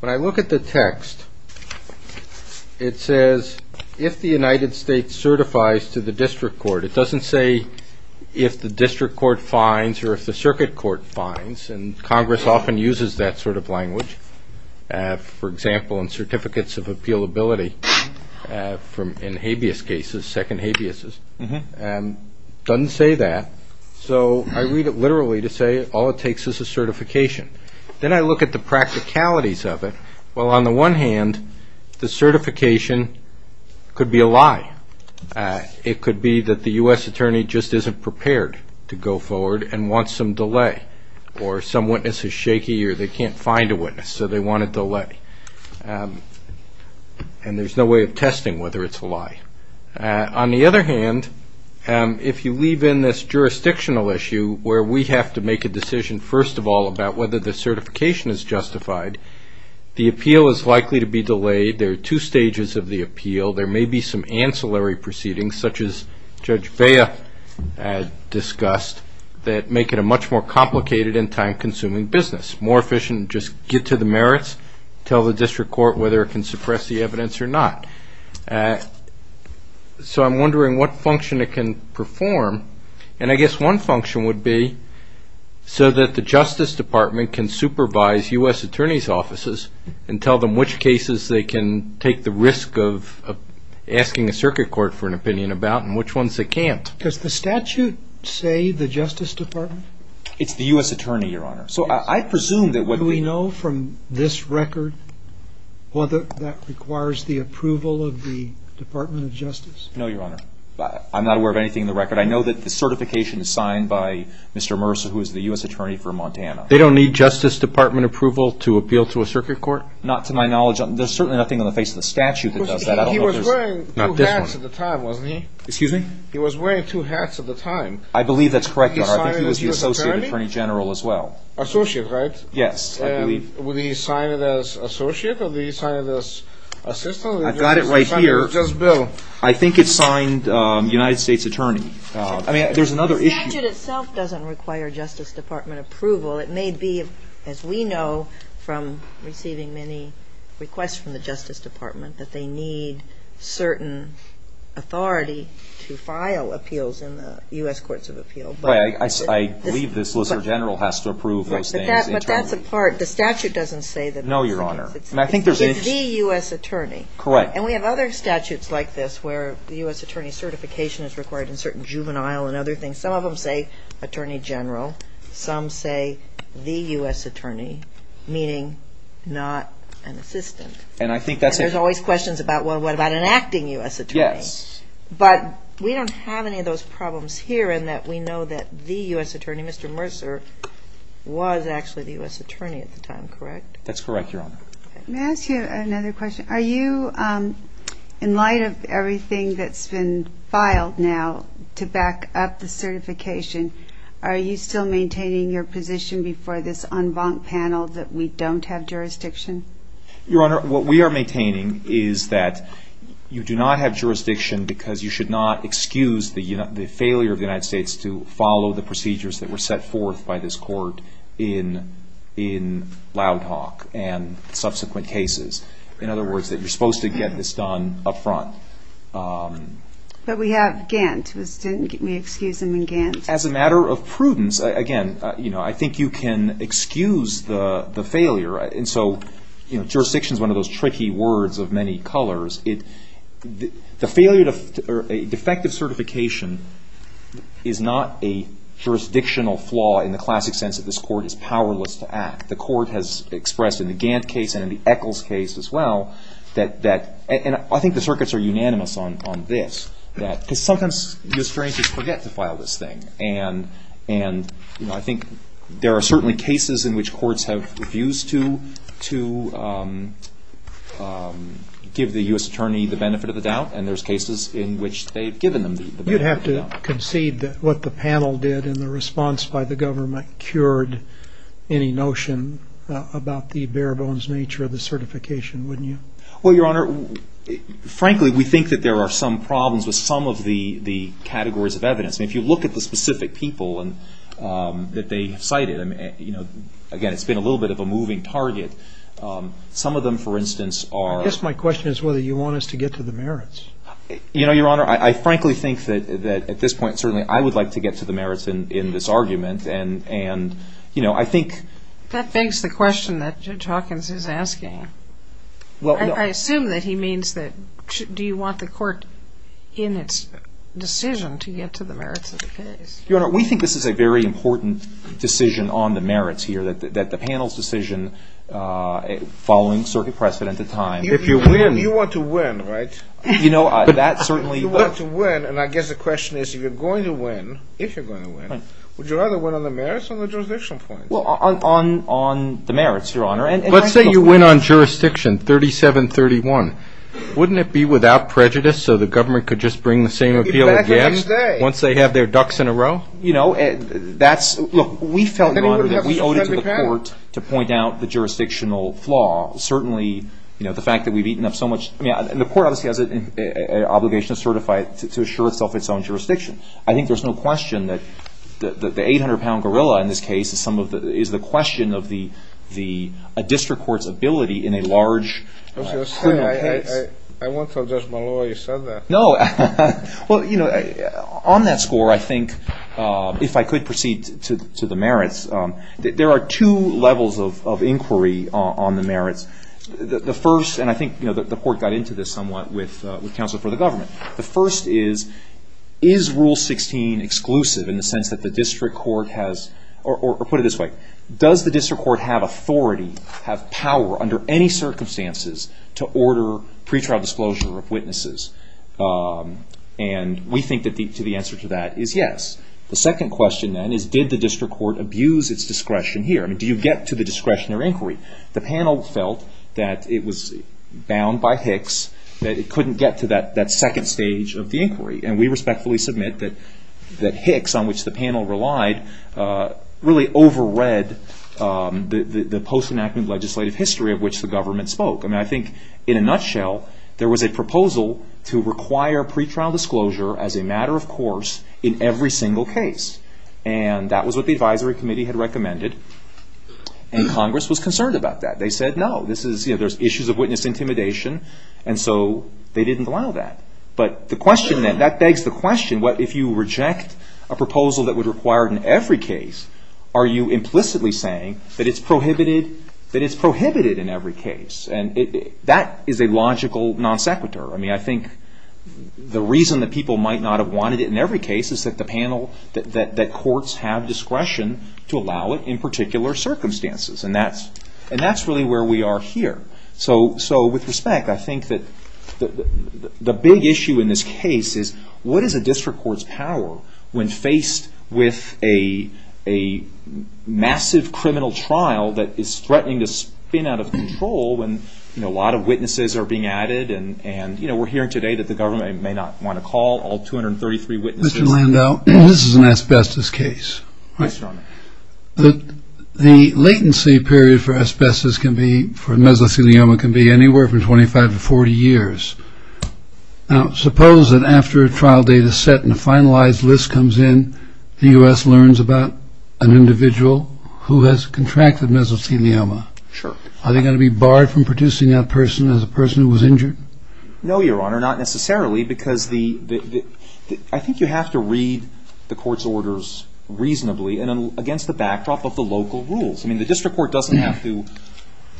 When I look at the text, it says, if the United States certifies to the district court, it doesn't say if the district court finds or if the circuit court finds, and Congress often uses that sort of language, for example, in certificates of appealability, in habeas cases, second habeas, doesn't say that. So I read it literally to say all it takes is a certification. Then I look at the practicalities of it. Well, on the one hand, the certification could be a lie. It could be that the U.S. attorney just isn't prepared to go forward and wants some delay, or some witness is shaky or they can't find a witness, so they want a delay. And there's no way of testing whether it's a lie. On the other hand, if you leave in this jurisdictional issue where we have to make a decision, first of all, about whether the certification is justified, the appeal is likely to be delayed. There are two stages of the appeal. There may be some ancillary proceedings, such as Judge Vea discussed, that make it a much more complicated and time-consuming business. It's more efficient to just get to the merits, tell the district court whether it can suppress the evidence or not. So I'm wondering what function it can perform. And I guess one function would be so that the Justice Department can supervise U.S. attorneys' offices and tell them which cases they can take the risk of asking a circuit court for an opinion about and which ones they can't. Does the statute say the Justice Department? It's the U.S. attorney, Your Honor. Yes. Do we know from this record whether that requires the approval of the Department of Justice? No, Your Honor. I'm not aware of anything in the record. I know that the certification is signed by Mr. Mercer, who is the U.S. attorney for Montana. They don't need Justice Department approval to appeal to a circuit court? Not to my knowledge. There's certainly nothing on the face of the statute that does that. He was wearing two hats at the time, wasn't he? Excuse me? He was wearing two hats at the time. I believe that's correct, Your Honor. I think he was the associate attorney general as well. Associate, right? Yes, I believe. Would he sign it as associate or would he sign it as assistant? I've got it right here. Or just bill? I think it signed United States attorney. I mean, there's another issue. The statute itself doesn't require Justice Department approval. It may be, as we know from receiving many requests from the Justice Department, that they need certain authority to file appeals in the U.S. courts of appeal. I believe the solicitor general has to approve those things internally. But that's a part. The statute doesn't say that. No, Your Honor. It's the U.S. attorney. Correct. And we have other statutes like this where the U.S. attorney certification is required in certain juvenile and other things. Some of them say attorney general. Some say the U.S. attorney, meaning not an assistant. And I think that's it. And there's always questions about, well, what about an acting U.S. attorney? Yes. But we don't have any of those problems here in that we know that the U.S. attorney, Mr. Mercer, was actually the U.S. attorney at the time, correct? That's correct, Your Honor. May I ask you another question? Are you, in light of everything that's been filed now to back up the certification, are you still maintaining your position before this en banc panel that we don't have jurisdiction? Your Honor, what we are maintaining is that you do not have jurisdiction because you should not excuse the failure of the United States to follow the procedures that were set forth by this court in loud talk and subsequent cases. In other words, that you're supposed to get this done up front. But we have Gantt. We excuse him in Gantt. As a matter of prudence, again, I think you can excuse the failure. And so jurisdiction is one of those tricky words of many colors. The failure or defective certification is not a jurisdictional flaw in the classic sense that this court is powerless to act. The court has expressed in the Gantt case and in the Eccles case as well that and I think the circuits are unanimous on this. Because sometimes U.S. attorneys just forget to file this thing. And I think there are certainly cases in which courts have refused to give the U.S. attorney the benefit of the doubt. And there's cases in which they've given them the benefit of the doubt. You'd have to concede that what the panel did in the response by the government cured any notion about the bare bones nature of the certification, wouldn't you? Well, Your Honor, frankly, we think that there are some problems with some of the categories of evidence. If you look at the specific people that they cited, again, it's been a little bit of a moving target. Some of them, for instance, are I guess my question is whether you want us to get to the merits. You know, Your Honor, I frankly think that at this point, certainly, I would like to get to the merits in this argument. And I think That begs the question that Judge Hawkins is asking. I assume that he means that do you want the court in its decision to get to the merits of the case? Your Honor, we think this is a very important decision on the merits here, that the panel's decision following circuit precedent at the time. You want to win, right? You know, that certainly You want to win, and I guess the question is if you're going to win, if you're going to win, would you rather win on the merits or the jurisdiction points? Well, on the merits, Your Honor. Let's say you win on jurisdiction 3731. Wouldn't it be without prejudice so the government could just bring the same appeal against Once they have their ducks in a row? You know, that's Look, we felt, Your Honor, that we owed it to the court to point out the jurisdictional flaw. Certainly, you know, the fact that we've eaten up so much I mean, the court obviously has an obligation to certify it to assure itself its own jurisdiction. I think there's no question that the 800-pound gorilla in this case is the question of a district court's ability in a large criminal case. I won't tell Judge Maloy you said that. No. Well, you know, on that score, I think, if I could proceed to the merits, there are two levels of inquiry on the merits. The first, and I think the court got into this somewhat with counsel for the government. The first is, is Rule 16 exclusive in the sense that the district court has Or put it this way. Does the district court have authority, have power under any circumstances to order pretrial disclosure of witnesses? And we think that the answer to that is yes. The second question then is, did the district court abuse its discretion here? I mean, do you get to the discretionary inquiry? The panel felt that it was bound by Hicks, that it couldn't get to that second stage of the inquiry, and we respectfully submit that Hicks, on which the panel relied, really overread the post-enactment legislative history of which the government spoke. I mean, I think in a nutshell, there was a proposal to require pretrial disclosure as a matter of course in every single case, and that was what the advisory committee had recommended, and Congress was concerned about that. They said, no, this is, you know, there's issues of witness intimidation, and so they didn't allow that. But the question then, that begs the question, what if you reject a proposal that would require it in every case, are you implicitly saying that it's prohibited in every case? And that is a logical non sequitur. I mean, I think the reason that people might not have wanted it in every case is that the panel, that courts have discretion to allow it in particular circumstances, and that's really where we are here. So with respect, I think that the big issue in this case is, what is a district court's power when faced with a massive criminal trial that is threatening to spin out of control when a lot of witnesses are being added, and, you know, we're hearing today that the government may not want to call all 233 witnesses. Mr. Landau, this is an asbestos case. Yes, Your Honor. The latency period for asbestos can be, for mesothelioma, can be anywhere from 25 to 40 years. Now, suppose that after a trial date is set and a finalized list comes in, the U.S. learns about an individual who has contracted mesothelioma. Sure. Are they going to be barred from producing that person as a person who was injured? No, Your Honor, not necessarily, because I think you have to read the court's orders reasonably and against the backdrop of the local rules. I mean, the district court doesn't have to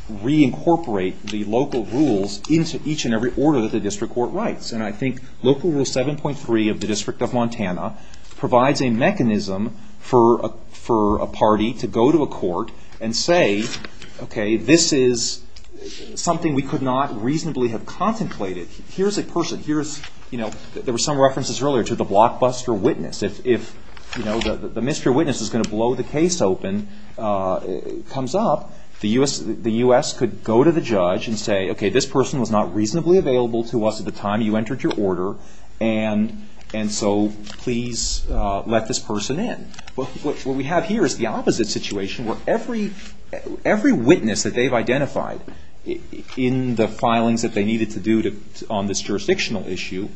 reincorporate the local rules into each and every order that the district court writes, and I think Local Rule 7.3 of the District of Montana provides a mechanism for a party to go to a court and say, okay, this is something we could not reasonably have contemplated. Here's a person, here's, you know, there were some references earlier to the blockbuster witness. If, you know, the mystery witness is going to blow the case open, comes up, the U.S. could go to the judge and say, okay, this person was not reasonably available to us at the time you entered your order, and so please let this person in. What we have here is the opposite situation, where every witness that they've identified in the filings that they needed to do on this jurisdictional issue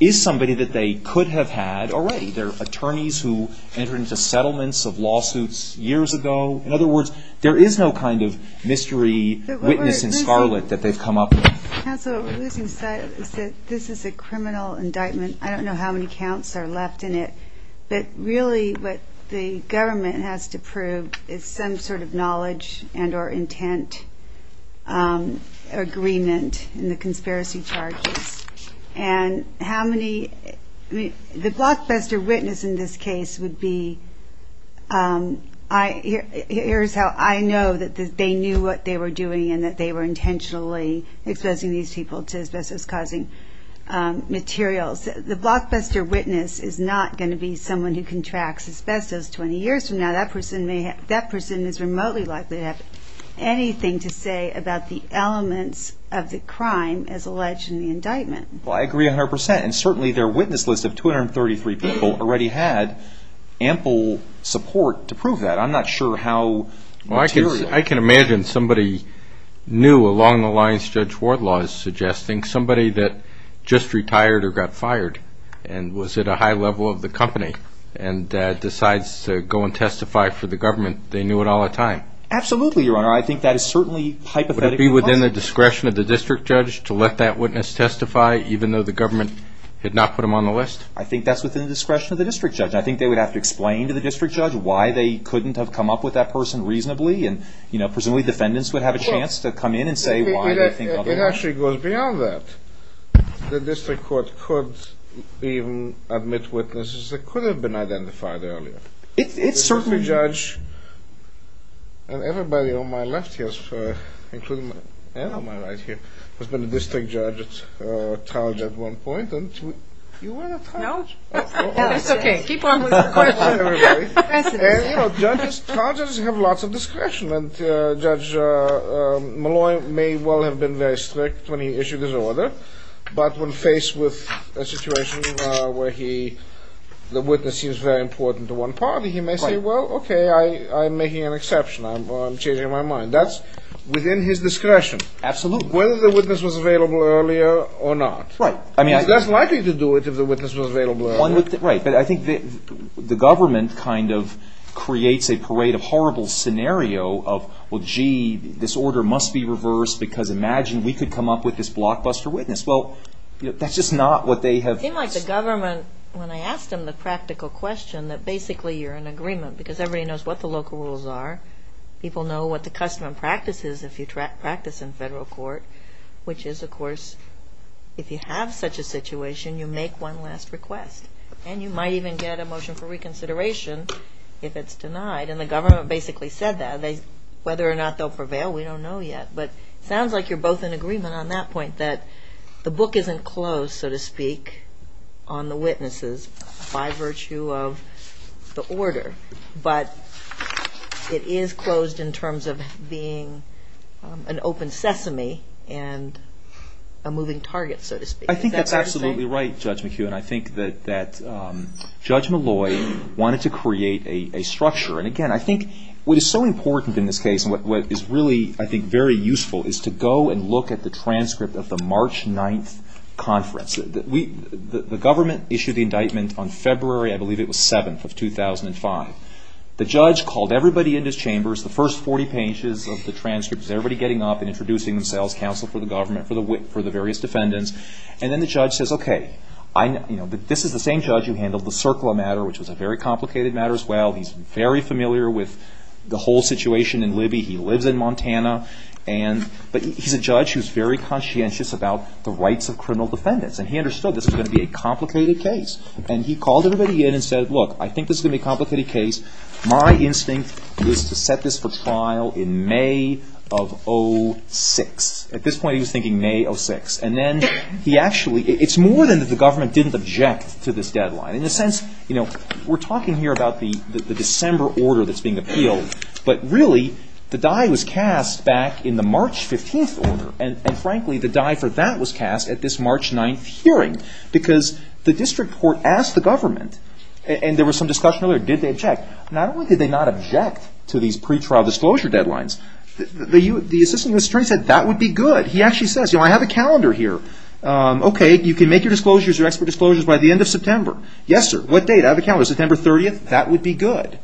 is somebody that they could have had already. They're attorneys who entered into settlements of lawsuits years ago. In other words, there is no kind of mystery witness in Scarlet that they've come up with. Counsel, this is a criminal indictment. I don't know how many counts are left in it, but really what the government has to prove is some sort of knowledge and or intent agreement in the conspiracy charges. And how many, I mean, the blockbuster witness in this case would be, here's how I know that they knew what they were doing and that they were intentionally exposing these people to asbestos-causing materials. The blockbuster witness is not going to be someone who contracts asbestos 20 years from now. That person is remotely likely to have anything to say about the elements of the crime as alleged in the indictment. Well, I agree 100%, and certainly their witness list of 233 people already had ample support to prove that. I'm not sure how material. Well, I can imagine somebody new along the lines Judge Wardlaw is suggesting, somebody that just retired or got fired and was at a high level of the company and decides to go and testify for the government, they knew it all the time. Absolutely, Your Honor. I think that is certainly hypothetically possible. Would it be within the discretion of the district judge to let that witness testify, even though the government had not put him on the list? I think that's within the discretion of the district judge. I think they would have to explain to the district judge why they couldn't have come up with that person reasonably, and presumably defendants would have a chance to come in and say why they think otherwise. It actually goes beyond that. The district court could even admit witnesses that could have been identified earlier. It certainly... The district judge, and everybody on my left here, including Anne on my right here, has been a district judge at Trout at one point, and you were at Trout. No. It's okay. Keep on with the question. Trout judges have lots of discretion, and Judge Malloy may well have been very strict when he issued his order, but when faced with a situation where the witness seems very important to one party, he may say, well, okay, I'm making an exception. I'm changing my mind. That's within his discretion. Absolutely. Whether the witness was available earlier or not. Right. He's less likely to do it if the witness was available earlier. Right. But I think the government kind of creates a parade of horrible scenario of, well, gee, this order must be reversed because imagine we could come up with this blockbuster witness. Well, that's just not what they have... It seemed like the government, when I asked them the practical question, that basically you're in agreement because everybody knows what the local rules are. People know what the custom and practice is if you practice in federal court, which is, of course, if you have such a situation, you make one last request, and you might even get a motion for reconsideration if it's denied, and the government basically said that. Whether or not they'll prevail, we don't know yet, but it sounds like you're both in agreement on that point, that the book isn't closed, so to speak, on the witnesses by virtue of the order, but it is closed in terms of being an open sesame and a moving target, so to speak. I think that's absolutely right, Judge McHugh, and I think that Judge Malloy wanted to create a structure, and again, I think what is so important in this case and what is really, I think, very useful is to go and look at the transcript of the March 9th conference. The government issued the indictment on February, I believe it was, 7th of 2005. The judge called everybody into his chambers, the first 40 pages of the transcripts, everybody getting up and introducing themselves, counsel for the government, for the various defendants, and then the judge says, okay, this is the same judge who handled the CIRCLA matter, which was a very complicated matter as well. He's very familiar with the whole situation in Libby. He lives in Montana, but he's a judge who's very conscientious about the rights of criminal defendants, and he understood this was going to be a complicated case, and he called everybody in and said, look, I think this is going to be a complicated case. My instinct was to set this for trial in May of 06. At this point, he was thinking May 06, and then he actually, it's more than that the government didn't object to this deadline. In a sense, we're talking here about the December order that's being appealed, but really, the die was cast back in the March 15th order, and frankly, the die for that was cast at this March 9th hearing, because the district court asked the government, and there was some discussion earlier, did they object? Not only did they not object to these pretrial disclosure deadlines, the Assistant U.S. Attorney said that would be good. He actually says, I have a calendar here. Okay, you can make your disclosures, your expert disclosures by the end of September. Yes, sir. What date? Out of the calendar. September 30th? That would be good.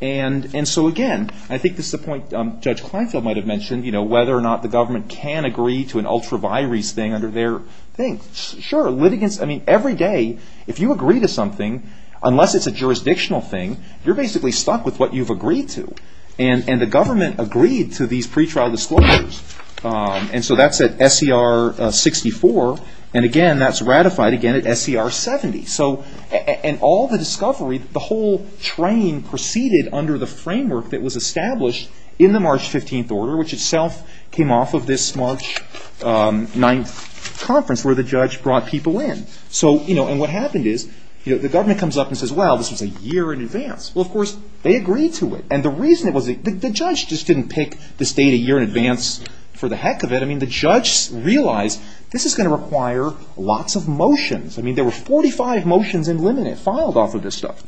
Again, I think this is a point Judge Kleinfeld might have mentioned, whether or not the government can agree to an ultra-virus thing under their thing. Sure, litigants, every day, if you agree to something, unless it's a jurisdictional thing, you're basically stuck with what you've agreed to. The government agreed to these pretrial disclosures, and so that's at SCR 64, and again, that's ratified again at SCR 70. And all the discovery, the whole train proceeded under the framework that was established in the March 15th order, which itself came off of this March 9th conference, where the judge brought people in. And what happened is, the government comes up and says, well, this was a year in advance. Well, of course, they agreed to it. And the reason it was, the judge just didn't pick this date a year in advance for the heck of it. I mean, the judge realized, this is going to require lots of motions. I mean, there were 45 motions in limine, filed off of this stuff.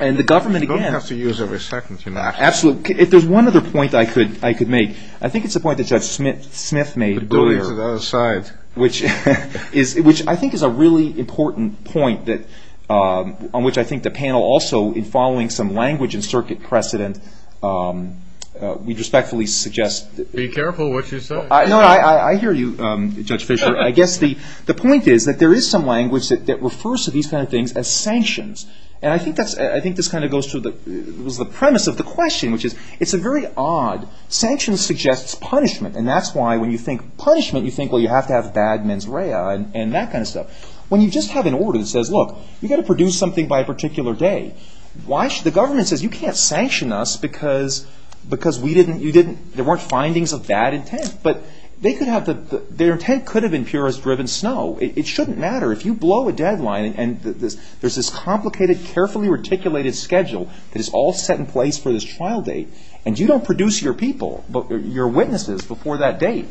And the government again. You don't have to use every second, you know. Absolutely. If there's one other point I could make, I think it's a point that Judge Smith made earlier. But don't use it out of sight. Which I think is a really important point that, on which I think the panel also, in following some language and circuit precedent, we'd respectfully suggest. Be careful what you say. No, I hear you, Judge Fischer. I guess the point is that there is some language that refers to these kind of things as sanctions. And I think this kind of goes to the premise of the question, which is, it's a very odd, sanctions suggests punishment. And that's why when you think punishment, you think, well, you have to have bad mens rea and that kind of stuff. When you just have an order that says, look, you've got to produce something by a particular day. The government says, you can't sanction us because there weren't findings of bad intent. But their intent could have been purist-driven snow. It shouldn't matter. If you blow a deadline and there's this complicated, carefully articulated schedule that is all set in place for this trial date, and you don't produce your people, your witnesses, before that date.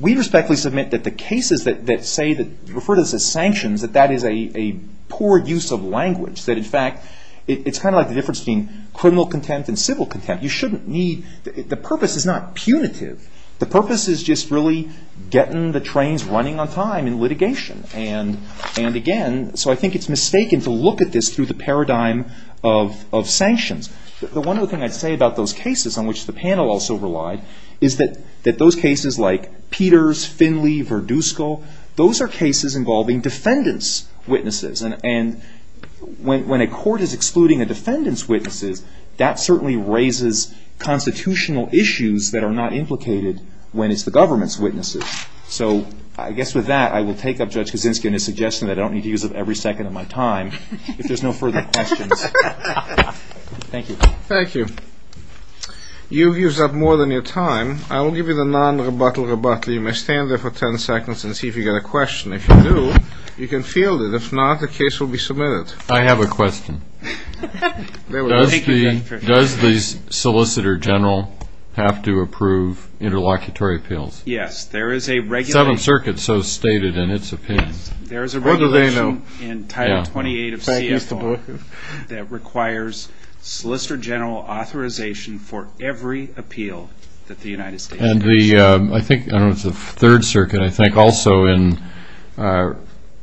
We respectfully submit that the cases that refer to this as sanctions, that that is a poor use of language. That, in fact, it's kind of like the difference between criminal contempt and civil contempt. The purpose is not punitive. The purpose is just really getting the trains running on time in litigation. And again, so I think it's mistaken to look at this through the paradigm of sanctions. The one other thing I'd say about those cases on which the panel also relied, is that those cases like Peters, Finley, Verdusco, those are cases involving defendants' witnesses. And when a court is excluding a defendant's witnesses, that certainly raises constitutional issues that are not implicated when it's the government's witnesses. So I guess with that, I will take up Judge Kaczynski on his suggestion that I don't need to use up every second of my time if there's no further questions. Thank you. Thank you. You've used up more than your time. I will give you the non-rebuttal rebuttal. You may stand there for ten seconds and see if you've got a question. If you do, you can field it. If not, the case will be submitted. I have a question. Does the Solicitor General have to approve interlocutory appeals? Yes, there is a regulation. The Seventh Circuit so stated in its opinion. There is a regulation in Title 28 of CSO that requires Solicitor General authorization for every appeal that the United States commission. I think it was the Third Circuit, I think, also in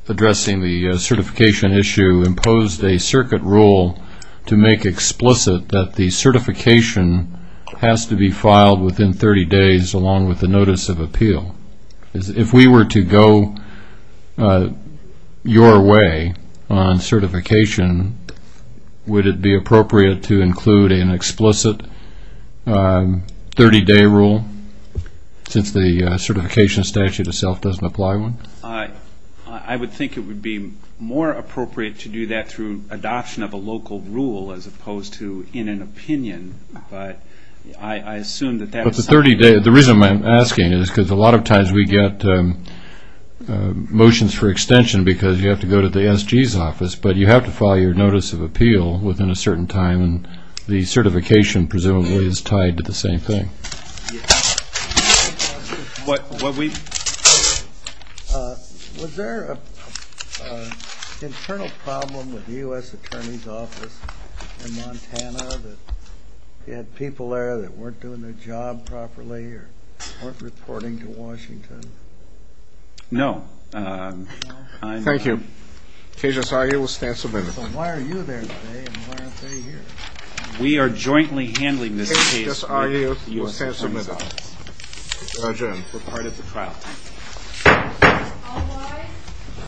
addressing the certification issue imposed a circuit rule to make explicit that the certification has to be filed within 30 days along with the notice of appeal. If we were to go your way on certification, would it be appropriate to include an explicit 30-day rule since the certification statute itself doesn't apply one? I would think it would be more appropriate to do that through adoption of a local rule as opposed to in an opinion. But I assume that that would sign it. But the reason I'm asking is because a lot of times we get motions for extension because you have to go to the SG's office, but you have to file your notice of appeal within a certain time, and the certification presumably is tied to the same thing. Was there an internal problem with the U.S. Attorney's Office in Montana that you had people there that weren't doing their job properly or weren't reporting to Washington? No. Thank you. KJSRU will stand submitted. So why are you there today and why aren't they here? We are jointly handling this case with the U.S. Attorney's Office. We're part of the trial. All rise.